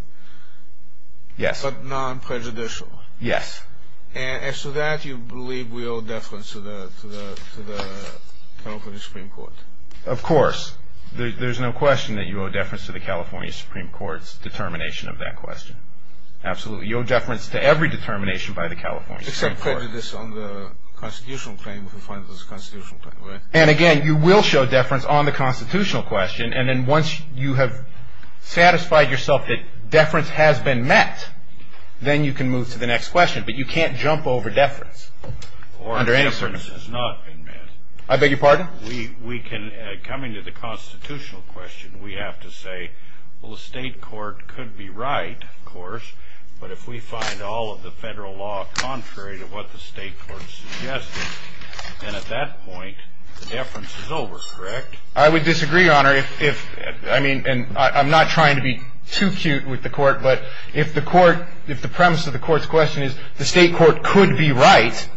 Yes. But non-prejudicial. Yes. And as to that, you believe we owe deference to the California Supreme Court? Of course. There's no question that you owe deference to the California Supreme Court's determination of that question. Absolutely. You owe deference to every determination by the California Supreme Court. Except for this on the constitutional claim, if you find it was a constitutional claim, right? And, again, you will show deference on the constitutional question, and then once you have satisfied yourself that deference has been met, then you can move to the next question. But you can't jump over deference. Or deference has not been met. I beg your pardon? We can, coming to the constitutional question, we have to say, well, the state court could be right, of course, but if we find all of the federal law contrary to what the state court suggested, then at that point, deference is over, correct? I would disagree, Your Honor. I'm not trying to be too cute with the court, but if the premise of the court's question is the state court could be right,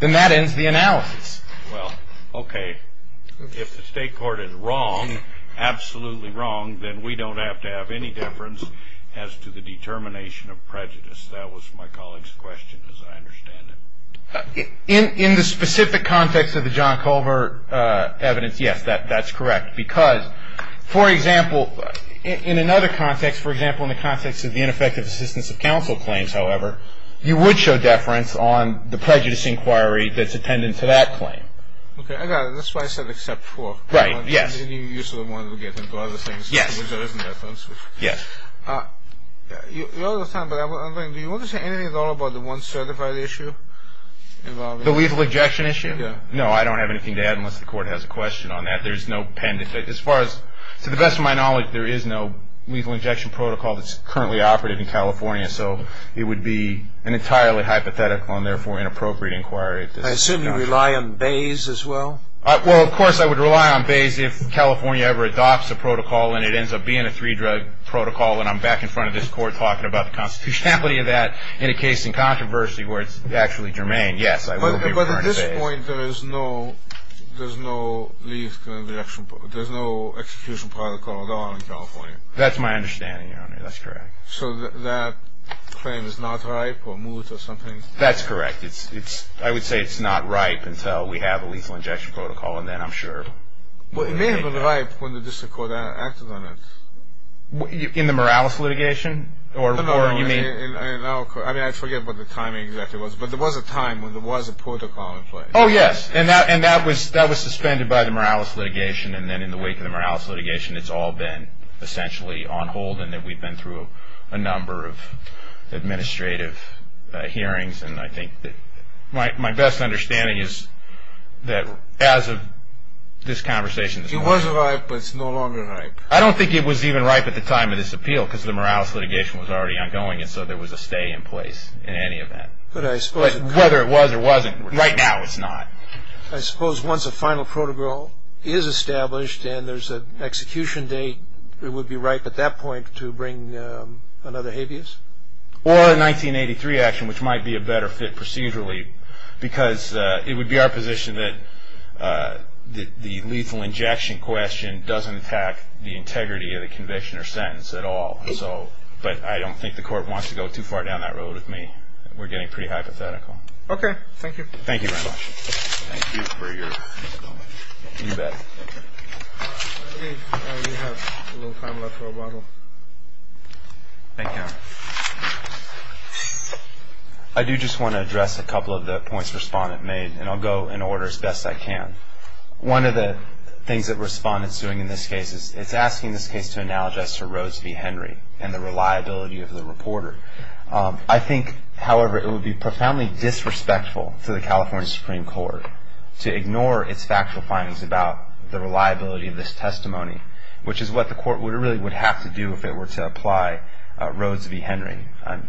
then that ends the analysis. Well, okay. If the state court is wrong, absolutely wrong, then we don't have to have any deference as to the determination of prejudice. That was my colleague's question, as I understand it. In the specific context of the John Culver evidence, yes, that's correct, because, for example, in another context, for example, in the context of the ineffective assistance of counsel claims, however, you would show deference on the prejudice inquiry that's attendant to that claim. Okay, I got it. That's why I said except for. Right, yes. And you sort of want to get into other things. Yes. Because there isn't deference. Yes. You're out of time, but I'm wondering, do you want to say anything at all about the one certified issue? The lethal ejection issue? Yes. No, I don't have anything to add unless the court has a question on that. There's no pen to take. As far as, to the best of my knowledge, there is no lethal injection protocol that's currently operative in California, so it would be an entirely hypothetical and, therefore, inappropriate inquiry. I assume you rely on Bayes as well? Well, of course I would rely on Bayes if California ever adopts a protocol and it ends up being a three-drug protocol, and I'm back in front of this court talking about the constitutionality of that in a case in controversy where it's actually germane. Yes, I will be referring to Bayes. But at this point, there's no execution protocol at all in California. That's my understanding, Your Honor. That's correct. So that claim is not ripe or moot or something? That's correct. I would say it's not ripe until we have a lethal injection protocol, and then I'm sure. Well, it may have been ripe when the district court acted on it. In the Morales litigation? No, no. I mean, I forget what the timing exactly was, but there was a time when there was a protocol in place. Oh, yes, and that was suspended by the Morales litigation, and then in the wake of the Morales litigation, it's all been essentially on hold and that we've been through a number of administrative hearings, and I think that my best understanding is that as of this conversation, it's not ripe. It was ripe, but it's no longer ripe. I don't think it was even ripe at the time of this appeal because the Morales litigation was already ongoing, and so there was a stay in place in any event. Whether it was or wasn't, right now it's not. I suppose once a final protocol is established and there's an execution date, it would be ripe at that point to bring another habeas? Or a 1983 action, which might be a better fit procedurally because it would be our position that the lethal injection question doesn't attack the integrity of the conviction or sentence at all, but I don't think the court wants to go too far down that road with me. We're getting pretty hypothetical. Okay. Thank you. Thank you very much. Thank you for your comment. You bet. I believe we have a little time left for a bottle. Thank you. I do just want to address a couple of the points the respondent made, and I'll go in order as best I can. One of the things that the respondent is doing in this case is asking this case to analogize to Rose v. Henry and the reliability of the reporter. I think, however, it would be profoundly disrespectful to the California Supreme Court to ignore its factual findings about the reliability of this testimony, which is what the court really would have to do if it were to apply Rose v. Henry.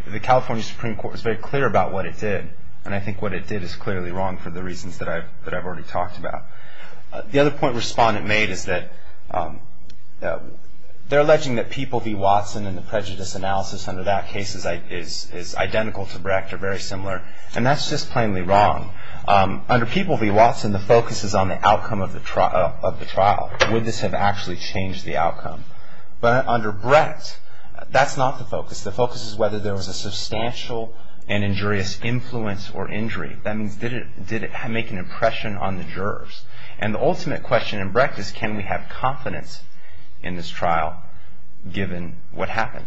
The California Supreme Court is very clear about what it did, and I think what it did is clearly wrong for the reasons that I've already talked about. The other point the respondent made is that they're alleging that people v. Watson and the prejudice analysis under that case is identical to Brecht or very similar, and that's just plainly wrong. Under people v. Watson, the focus is on the outcome of the trial. Would this have actually changed the outcome? But under Brecht, that's not the focus. The focus is whether there was a substantial and injurious influence or injury. That means did it make an impression on the jurors? And the ultimate question in Brecht is can we have confidence in this trial given what happened?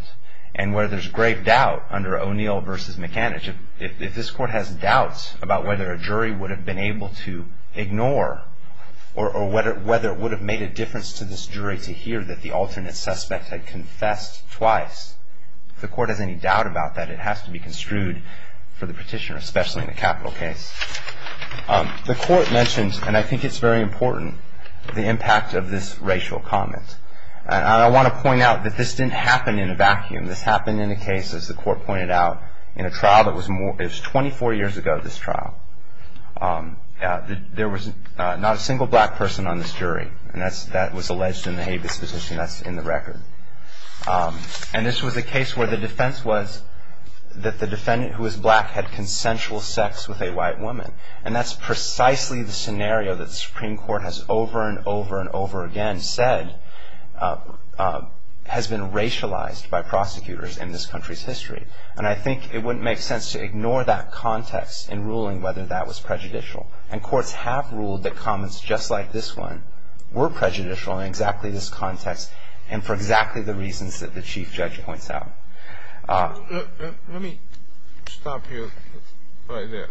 And where there's grave doubt under O'Neill v. McAnish, if this court has doubts about whether a jury would have been able to ignore or whether it would have made a difference to this jury to hear that the alternate suspect had confessed twice, if the court has any doubt about that, it has to be construed for the petitioner, especially in a capital case. The court mentioned, and I think it's very important, the impact of this racial comment. And I want to point out that this didn't happen in a vacuum. This happened in a case, as the court pointed out, in a trial that was 24 years ago, this trial. There was not a single black person on this jury, and that was alleged in the Habeas petition that's in the record. And this was a case where the defense was that the defendant who was black had consensual sex with a white woman. And that's precisely the scenario that the Supreme Court has over and over and over again said has been racialized by prosecutors in this country's history. And I think it wouldn't make sense to ignore that context in ruling whether that was prejudicial. And courts have ruled that comments just like this one were prejudicial in exactly this context and for exactly the reasons that the chief judge points out. Let me stop you right there.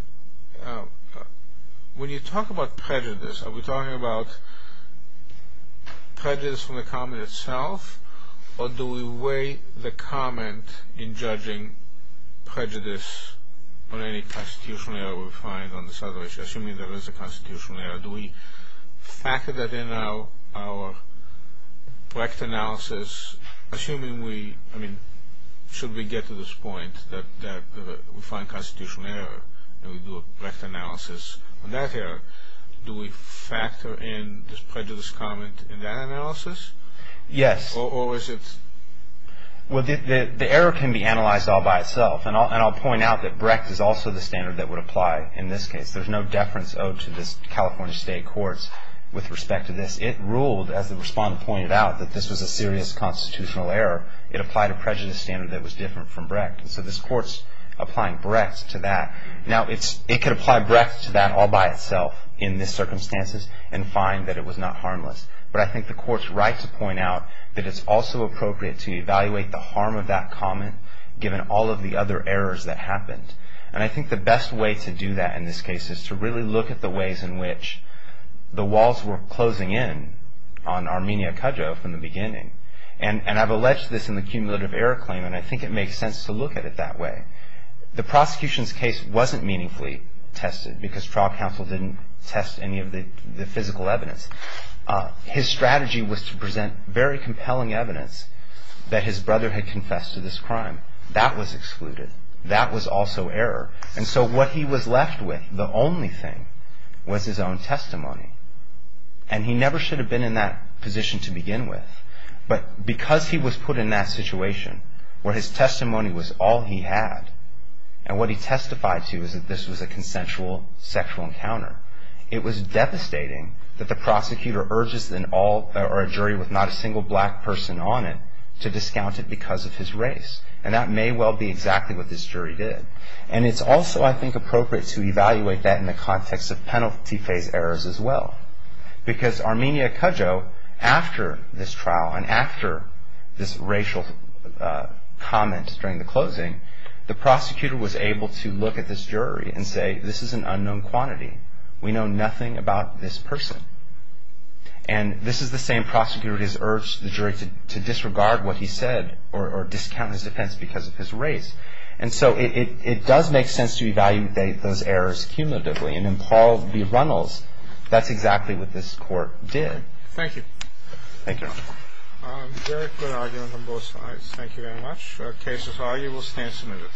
When you talk about prejudice, are we talking about prejudice from the comment itself, or do we weigh the comment in judging prejudice on any constitutional error we find on this other issue, assuming there is a constitutional error? Do we factor that in our Brecht analysis? Assuming we, I mean, should we get to this point that we find constitutional error and we do a Brecht analysis on that error, do we factor in this prejudice comment in that analysis? Yes. Or is it? Well, the error can be analyzed all by itself, and I'll point out that Brecht is also the standard that would apply in this case. There's no deference owed to this California state courts with respect to this. It ruled, as the respondent pointed out, that this was a serious constitutional error. It applied a prejudice standard that was different from Brecht. So this court's applying Brecht to that. Now, it could apply Brecht to that all by itself in this circumstances and find that it was not harmless. But I think the court's right to point out that it's also appropriate to evaluate the harm of that comment given all of the other errors that happened. And I think the best way to do that in this case is to really look at the ways in which the walls were closing in on Armenia Kadjo from the beginning. And I've alleged this in the cumulative error claim, and I think it makes sense to look at it that way. The prosecution's case wasn't meaningfully tested because trial counsel didn't test any of the physical evidence. His strategy was to present very compelling evidence that his brother had confessed to this crime. That was excluded. That was also error. And so what he was left with, the only thing, was his own testimony. And he never should have been in that position to begin with. But because he was put in that situation where his testimony was all he had, and what he testified to is that this was a consensual sexual encounter, it was devastating that the prosecutor urges a jury with not a single black person on it to discount it because of his race. And that may well be exactly what this jury did. And it's also, I think, appropriate to evaluate that in the context of penalty phase errors as well. Because Armenia Kadjo, after this trial and after this racial comment during the closing, the prosecutor was able to look at this jury and say, this is an unknown quantity. We know nothing about this person. And this is the same prosecutor who has urged the jury to disregard what he said or discount his defense because of his race. And so it does make sense to evaluate those errors cumulatively. And in Paul v. Runnels, that's exactly what this court did. Thank you. Thank you. Very good arguments on both sides. Thank you very much. The case is argued. We'll stand submitted.